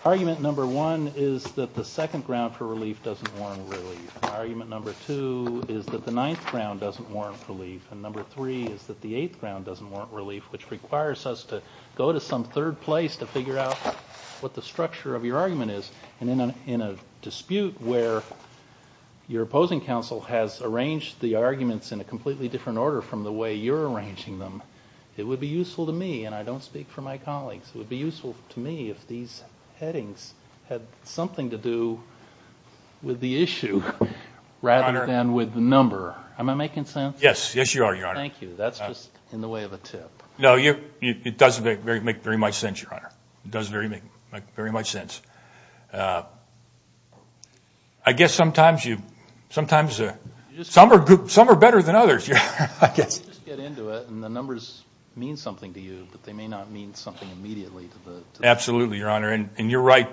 argument number one is that the second ground for relief doesn't warrant relief. Argument number two is that the ninth ground doesn't warrant relief. And number three is that the eighth ground doesn't warrant relief, which requires us to go to some third place to figure out what the structure of your argument is. And in a dispute where your opposing counsel has arranged the arguments in a completely different order from the way you're arranging them, it would be useful to me, and I don't speak for my colleagues, it would be useful to me if these headings had something to do with the issue rather than with the number. Am I making sense? Yes, yes you are, Your Honor. Thank you. That's just in the way of a tip. No, it doesn't make very much sense, Your Honor. It doesn't make very much sense. I guess sometimes you, sometimes, some are better than others. I guess you just get into it and the numbers mean something to you, but they may not mean something to you immediately. Absolutely, Your Honor, and you're right.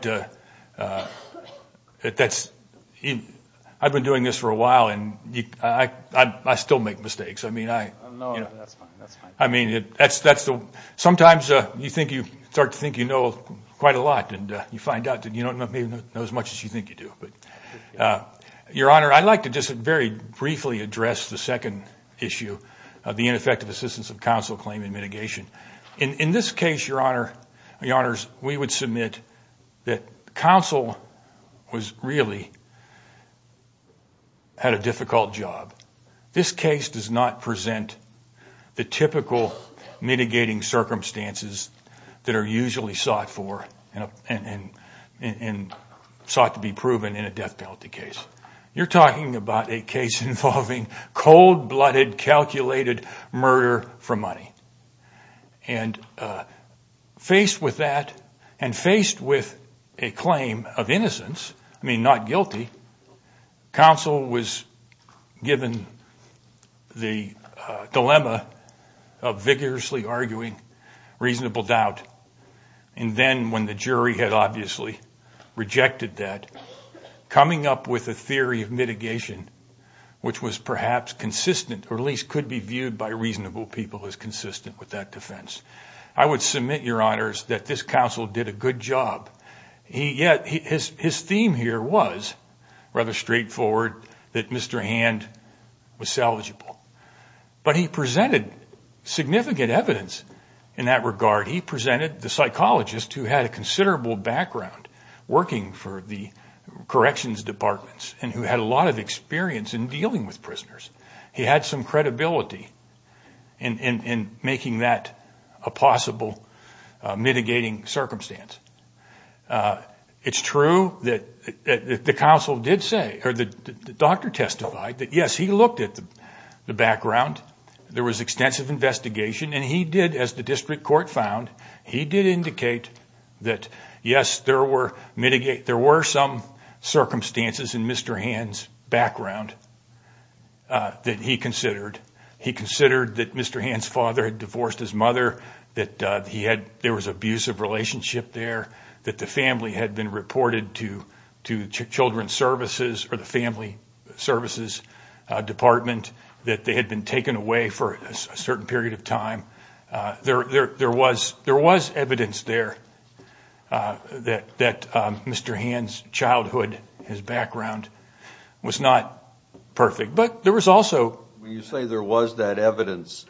I've been doing this for a while and I still make mistakes. I mean, sometimes you think, you start to think you know quite a lot, and you find out that you don't know as much as you think you do. But, Your Honor, I'd like to just very briefly address the second issue of the ineffective assistance of counsel claim in mitigation. In this case, Your Honor, we would submit that counsel really had a difficult job. This case does not present the typical mitigating circumstances that are usually sought for and sought to be proven in a death penalty case. You're talking about a case involving cold-blooded, calculated murder for money. And faced with that, and faced with a claim of innocence, I mean not guilty, counsel was given the dilemma of vigorously arguing reasonable doubt. And then, when the jury had obviously rejected that, coming up with a theory of reasonable people is consistent with that defense. I would submit, Your Honors, that this counsel did a good job. Yet, his theme here was rather straightforward, that Mr. Hand was salvageable. But he presented significant evidence in that regard. He presented the psychologist who had a considerable background working for the corrections departments and who had a lot of in making that a possible mitigating circumstance. It's true that the counsel did say, or the doctor testified, that yes, he looked at the background. There was extensive investigation, and he did, as the district court found, he did indicate that yes, there were some circumstances in Mr. Hand's childhood. He did say that he considered that Mr. Hand's father had divorced his mother, that there was an abusive relationship there, that the family had been reported to the family services department, that they had been taken away for a certain period of time. There was evidence there that Mr. Hand's childhood, his background, was not perfect. When you say there was that evidence,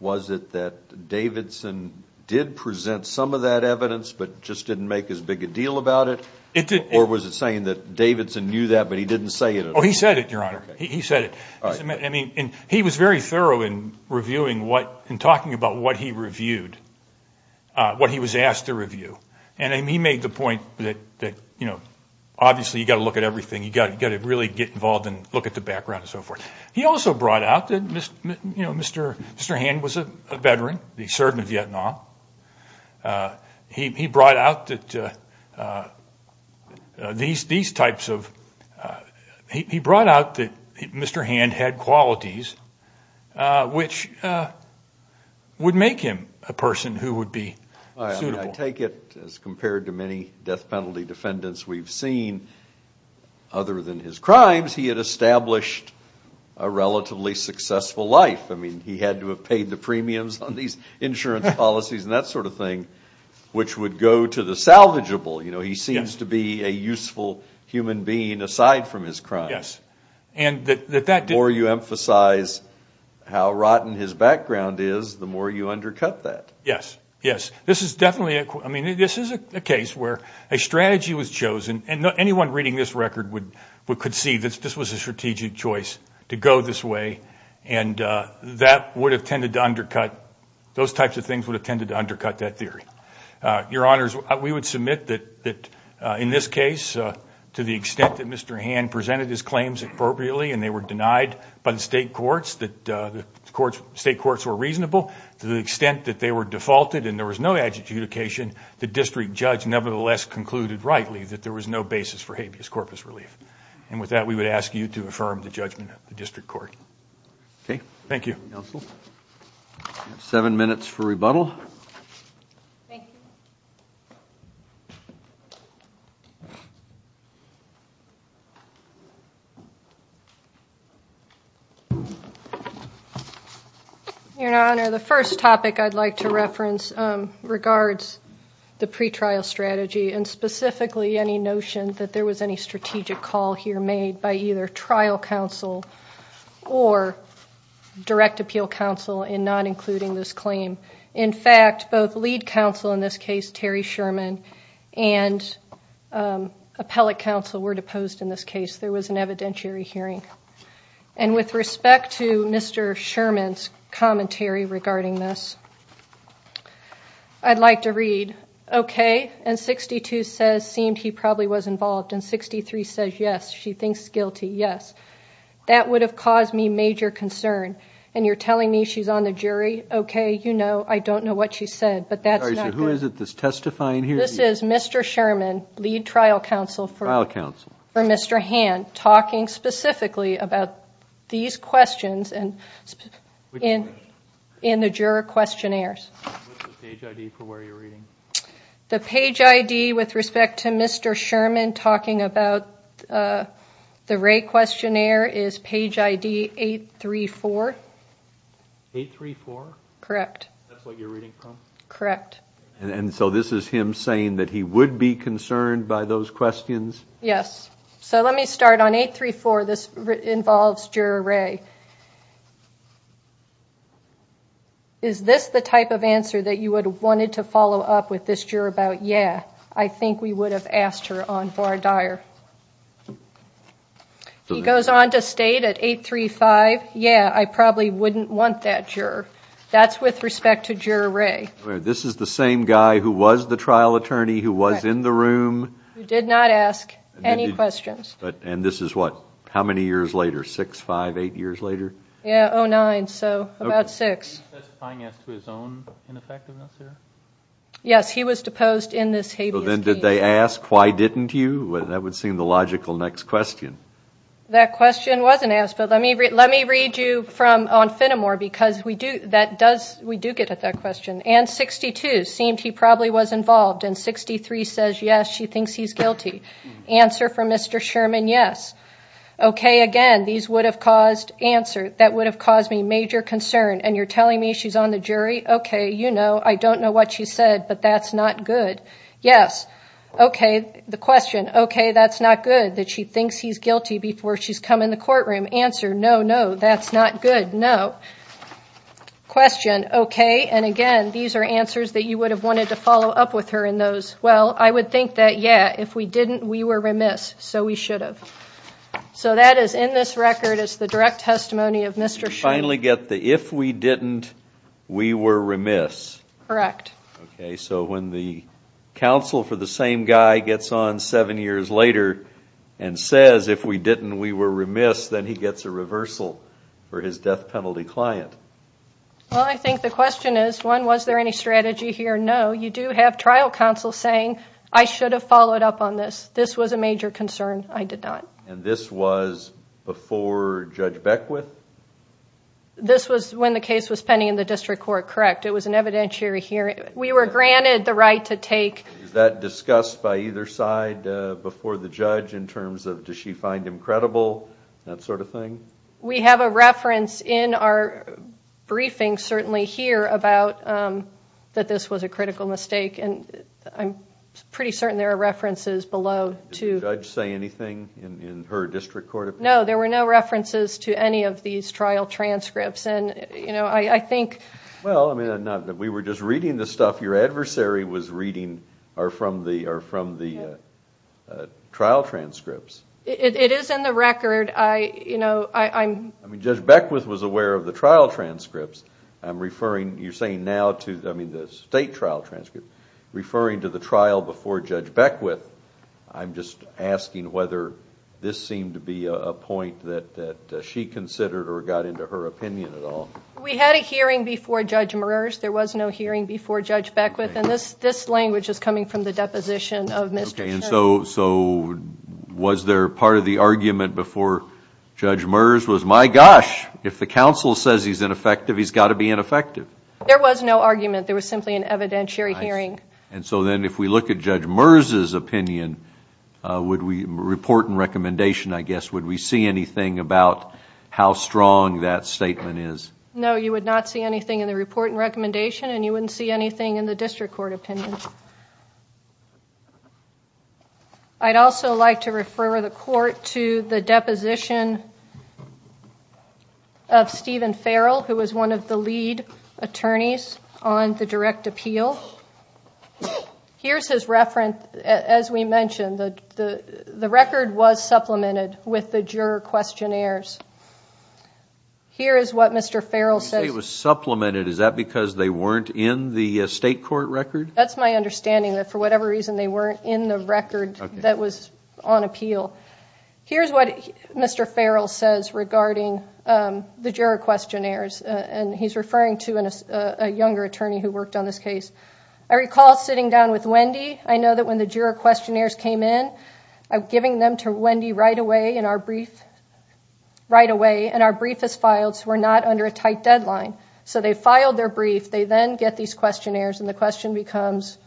was it that Davidson did present some of that evidence, but just didn't make as big a deal about it, or was it saying that Davidson knew that, but he didn't say it? Oh, he said it, Your Honor. He said it. I mean, he was very thorough in reviewing what, in talking about what he reviewed, what he was asked to review. He made the point that, you know, obviously you got to look at everything. You got to really get involved and look at the background and so forth. He also brought out that Mr. Hand was a veteran. He served in Vietnam. He brought out that these types of... he brought out that Mr. Hand had qualities which would make him a person who would be suitable. I take it, as compared to many death crimes, he had established a relatively successful life. I mean, he had to have paid the premiums on these insurance policies and that sort of thing, which would go to the salvageable. You know, he seems to be a useful human being aside from his crimes. The more you emphasize how rotten his background is, the more you undercut that. Yes, yes. This is definitely... I mean, this is a case where a strategy was chosen and anyone reading this record could see this was a strategic choice to go this way and that would have tended to undercut... those types of things would have tended to undercut that theory. Your Honors, we would submit that in this case, to the extent that Mr. Hand presented his claims appropriately and they were denied by the state courts, that the state courts were reasonable, to the extent that they were the less concluded rightly that there was no basis for habeas corpus relief. And with that, we would ask you to affirm the judgment at the District Court. Okay. Thank you. Seven minutes for rebuttal. Your Honor, the first topic I'd like to reference regards the pretrial strategy and specifically any notion that there was any strategic call here made by either trial counsel or direct appeal counsel in not including this claim. In fact, both lead counsel in this case, Terry Sherman, and appellate counsel were deposed in this case. There was an evidentiary hearing. And with respect to 62 says, seemed he probably was involved. And 63 says, yes, she thinks guilty, yes. That would have caused me major concern. And you're telling me she's on the jury? Okay, you know, I don't know what she said, but that's not good. This is Mr. Sherman, lead trial counsel for Mr. Hand, talking specifically about these questions and in the juror questionnaires. The page ID with respect to Mr. Sherman talking about the Ray questionnaire is page ID 834. 834? Correct. That's what you're reading from? Correct. And so this is him saying that he would be concerned by those questions? Yes. So is this the type of answer that you would have wanted to follow up with this juror about, yeah, I think we would have asked her on bar dire. He goes on to state at 835, yeah, I probably wouldn't want that juror. That's with respect to juror Ray. This is the same guy who was the trial attorney, who was in the room. Who did not ask any questions. And this is what, how many years later? Six, five, eight years later? Yeah, oh nine, so about six. Yes, he was deposed in this habeas case. Then did they ask why didn't you? That would seem the logical next question. That question wasn't asked, but let me read you from, on Finnemore, because we do, that does, we do get at that question. And 62, seemed he probably was involved, and 63 says yes, she thinks he's guilty. Answer from Mr. Sherman, yes. Okay, again, these would have caused, answer, that would have caused me major concern, and you're telling me she's on the jury? Okay, you know, I don't know what she said, but that's not good. Yes. Okay, the question, okay, that's not good that she thinks he's guilty before she's come in the courtroom. Answer, no, no, that's not good, no. Question, okay, and again, these are answers that you would have wanted to follow up with her in those. Well, I would think that, yeah, if we didn't, we were remiss, so we should have. So that is, in this record, it's the direct testimony of Mr. Sherman. You finally get the, if we didn't, we were remiss. Correct. Okay, so when the counsel for the same guy gets on seven years later and says, if we didn't, we were remiss, then he gets a reversal for his death penalty client. Well, I think the question is, one, was there any strategy here? No, you do have trial counsel saying, I should have followed up on this. This was a major concern. I did not. And this was before Judge Beckwith? This was when the case was pending in the district court, correct. It was an evidentiary hearing. We were granted the right to take. Is that discussed by either side before the judge in terms of, does she find him credible, that sort of thing? We have a reference in our critical mistake, and I'm pretty certain there are references below. Did the judge say anything in her district court opinion? No, there were no references to any of these trial transcripts, and, you know, I think... Well, I mean, we were just reading the stuff your adversary was reading or from the trial transcripts. It is in the record. I, you know, I'm... I mean, Judge Beckwith was aware of the trial transcripts. I'm referring, you're saying now to, I mean, the state trial transcripts, referring to the trial before Judge Beckwith. I'm just asking whether this seemed to be a point that she considered or got into her opinion at all. We had a hearing before Judge Meurs. There was no hearing before Judge Beckwith, and this language is coming from the deposition of Mr. Schiff. Okay, and so was there part of the argument before Judge Meurs was, my gosh, if the counsel says he's ineffective, he's got to be ineffective? There was no argument. There was simply an evidentiary hearing. And so then if we look at Judge Meurs's opinion, would we report and recommendation, I guess, would we see anything about how strong that statement is? No, you would not see anything in the report and recommendation, and you wouldn't see anything in the district court opinion. I'd also like to refer the court to the deposition of Stephen Farrell, who was one of the lead attorneys on the direct appeal. Here's his reference, as we mentioned, the record was supplemented with the juror questionnaires. Here is what Mr. Farrell says. You say it was supplemented, is that because they weren't in the state court record? That's my understanding, that for whatever reason they weren't in the regarding the juror questionnaires, and he's referring to a younger attorney who worked on this case. I recall sitting down with Wendy. I know that when the juror questionnaires came in, I'm giving them to Wendy right away in our brief, right away, and our brief is filed, so we're not under a tight deadline. So they filed their brief, they then get these questionnaires, and the question becomes,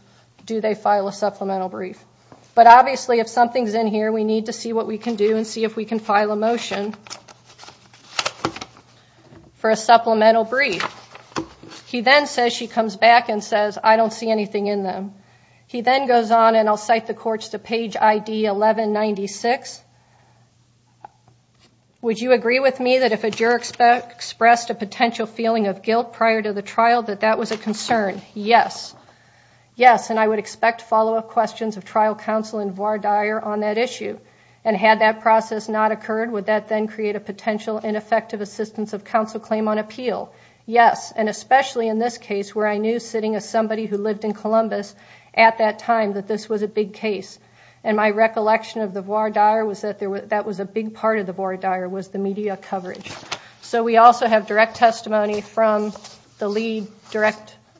do they file a supplemental brief? But obviously if something's in here, we need to see what we can do and see if we can file a motion for a supplemental brief. He then says, she comes back and says, I don't see anything in them. He then goes on and I'll cite the courts to page ID 1196. Would you agree with me that if a juror expressed a potential feeling of guilt prior to the trial, that that was a concern? Yes. Yes, and I would expect follow-up questions of trial counsel in voir dire on that issue, and had that process not occurred, would that then create a potential ineffective assistance of counsel claim on appeal? Yes, and especially in this case where I knew sitting as somebody who lived in Columbus at that time that this was a big case, and my recollection of the voir dire was that there was, that was a big part of the voir dire was the media coverage. So we also have direct testimony from the lead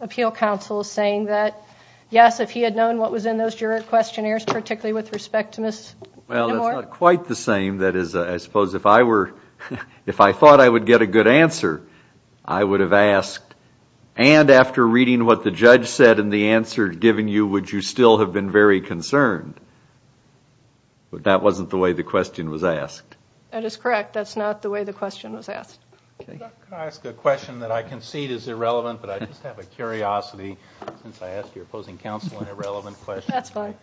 appeal counsel saying that, yes, if he had known what was in those juror questionnaires, particularly with respect to Ms. Nemour. Well, that's not quite the same. That is, I suppose if I were, if I thought I would get a good answer, I would have asked, and after reading what the judge said in the answer given you, would you still have been very concerned? But that wasn't the way the question was asked. That is correct. That's not the way the question was asked. Can I ask a question that I concede is irrelevant, but I just have a curiosity since I asked your opposing counsel an irrelevant question. That's fine.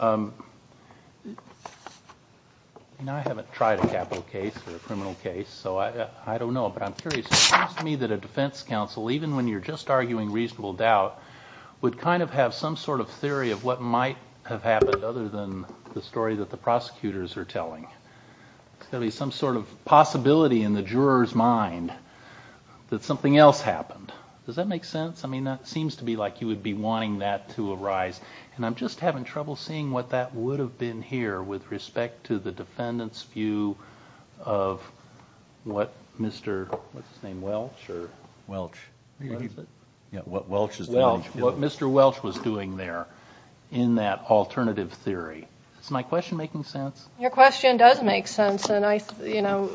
You know, I haven't tried a capital case or a criminal case, so I don't know, but I'm curious. It seems to me that a defense counsel, even when you're just arguing reasonable doubt, would kind of have some sort of theory of what might have happened other than the story that the prosecutors are telling. There's got to be some sort of possibility in the juror's mind that something else happened. Does that make sense? I mean, that seems to be like you would be wanting that to arise, and I'm just having trouble seeing what that would have been here with respect to the defendant's view of what Mr. Welch was doing there in that alternative theory. Is my question making sense? Your question does make sense, and I, you know,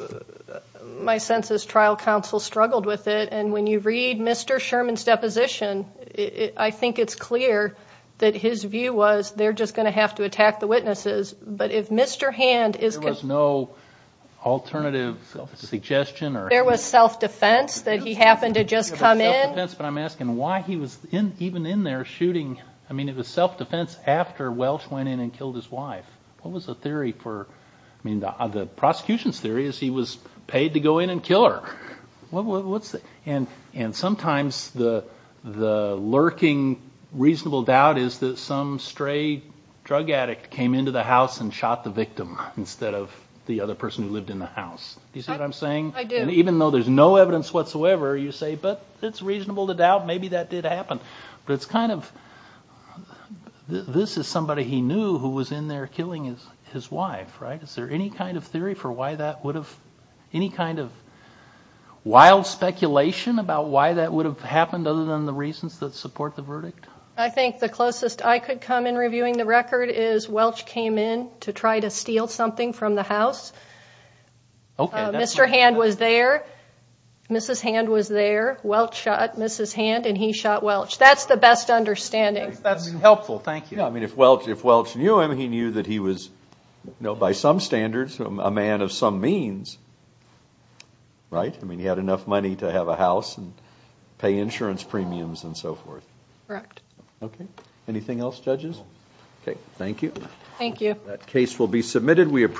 my sense is trial counsel struggled with it, and when you read Mr. Sherman's deposition, I think it's clear that his view was they're just going to have to attack the witnesses, but if Mr. Hand is... There was no alternative suggestion or... There was self-defense that he happened to just come in. I'm asking why he was even in there shooting. I mean, it was self-defense after Welch went in and killed his wife. What was the theory for... I mean, the prosecution's theory is he was paid to go in and kill her. What's the... And sometimes the lurking reasonable doubt is that some stray drug addict came into the house and shot the victim instead of the other person who lived in the house. You see what I'm saying? I do. And even though there's no evidence whatsoever, you say, but it's reasonable to doubt maybe that did happen, but it's kind of... This is somebody he knew who was in there killing his wife, right? Is there any kind of theory for why that would have... Wild speculation about why that would have happened other than the reasons that support the verdict? I think the closest I could come in reviewing the record is Welch came in to try to steal something from the house. Okay. Mr. Hand was there. Mrs. Hand was there. Welch shot Mrs. Hand and he shot Welch. That's the best understanding. That's helpful. Thank you. I mean, if Welch knew him, he knew that he was, by some standards, a man of some means. Right? I mean, he had enough money to have a house and pay insurance premiums and so forth. Correct. Okay. Anything else, judges? Okay. Thank you. Thank you. That case will be submitted. We appreciate...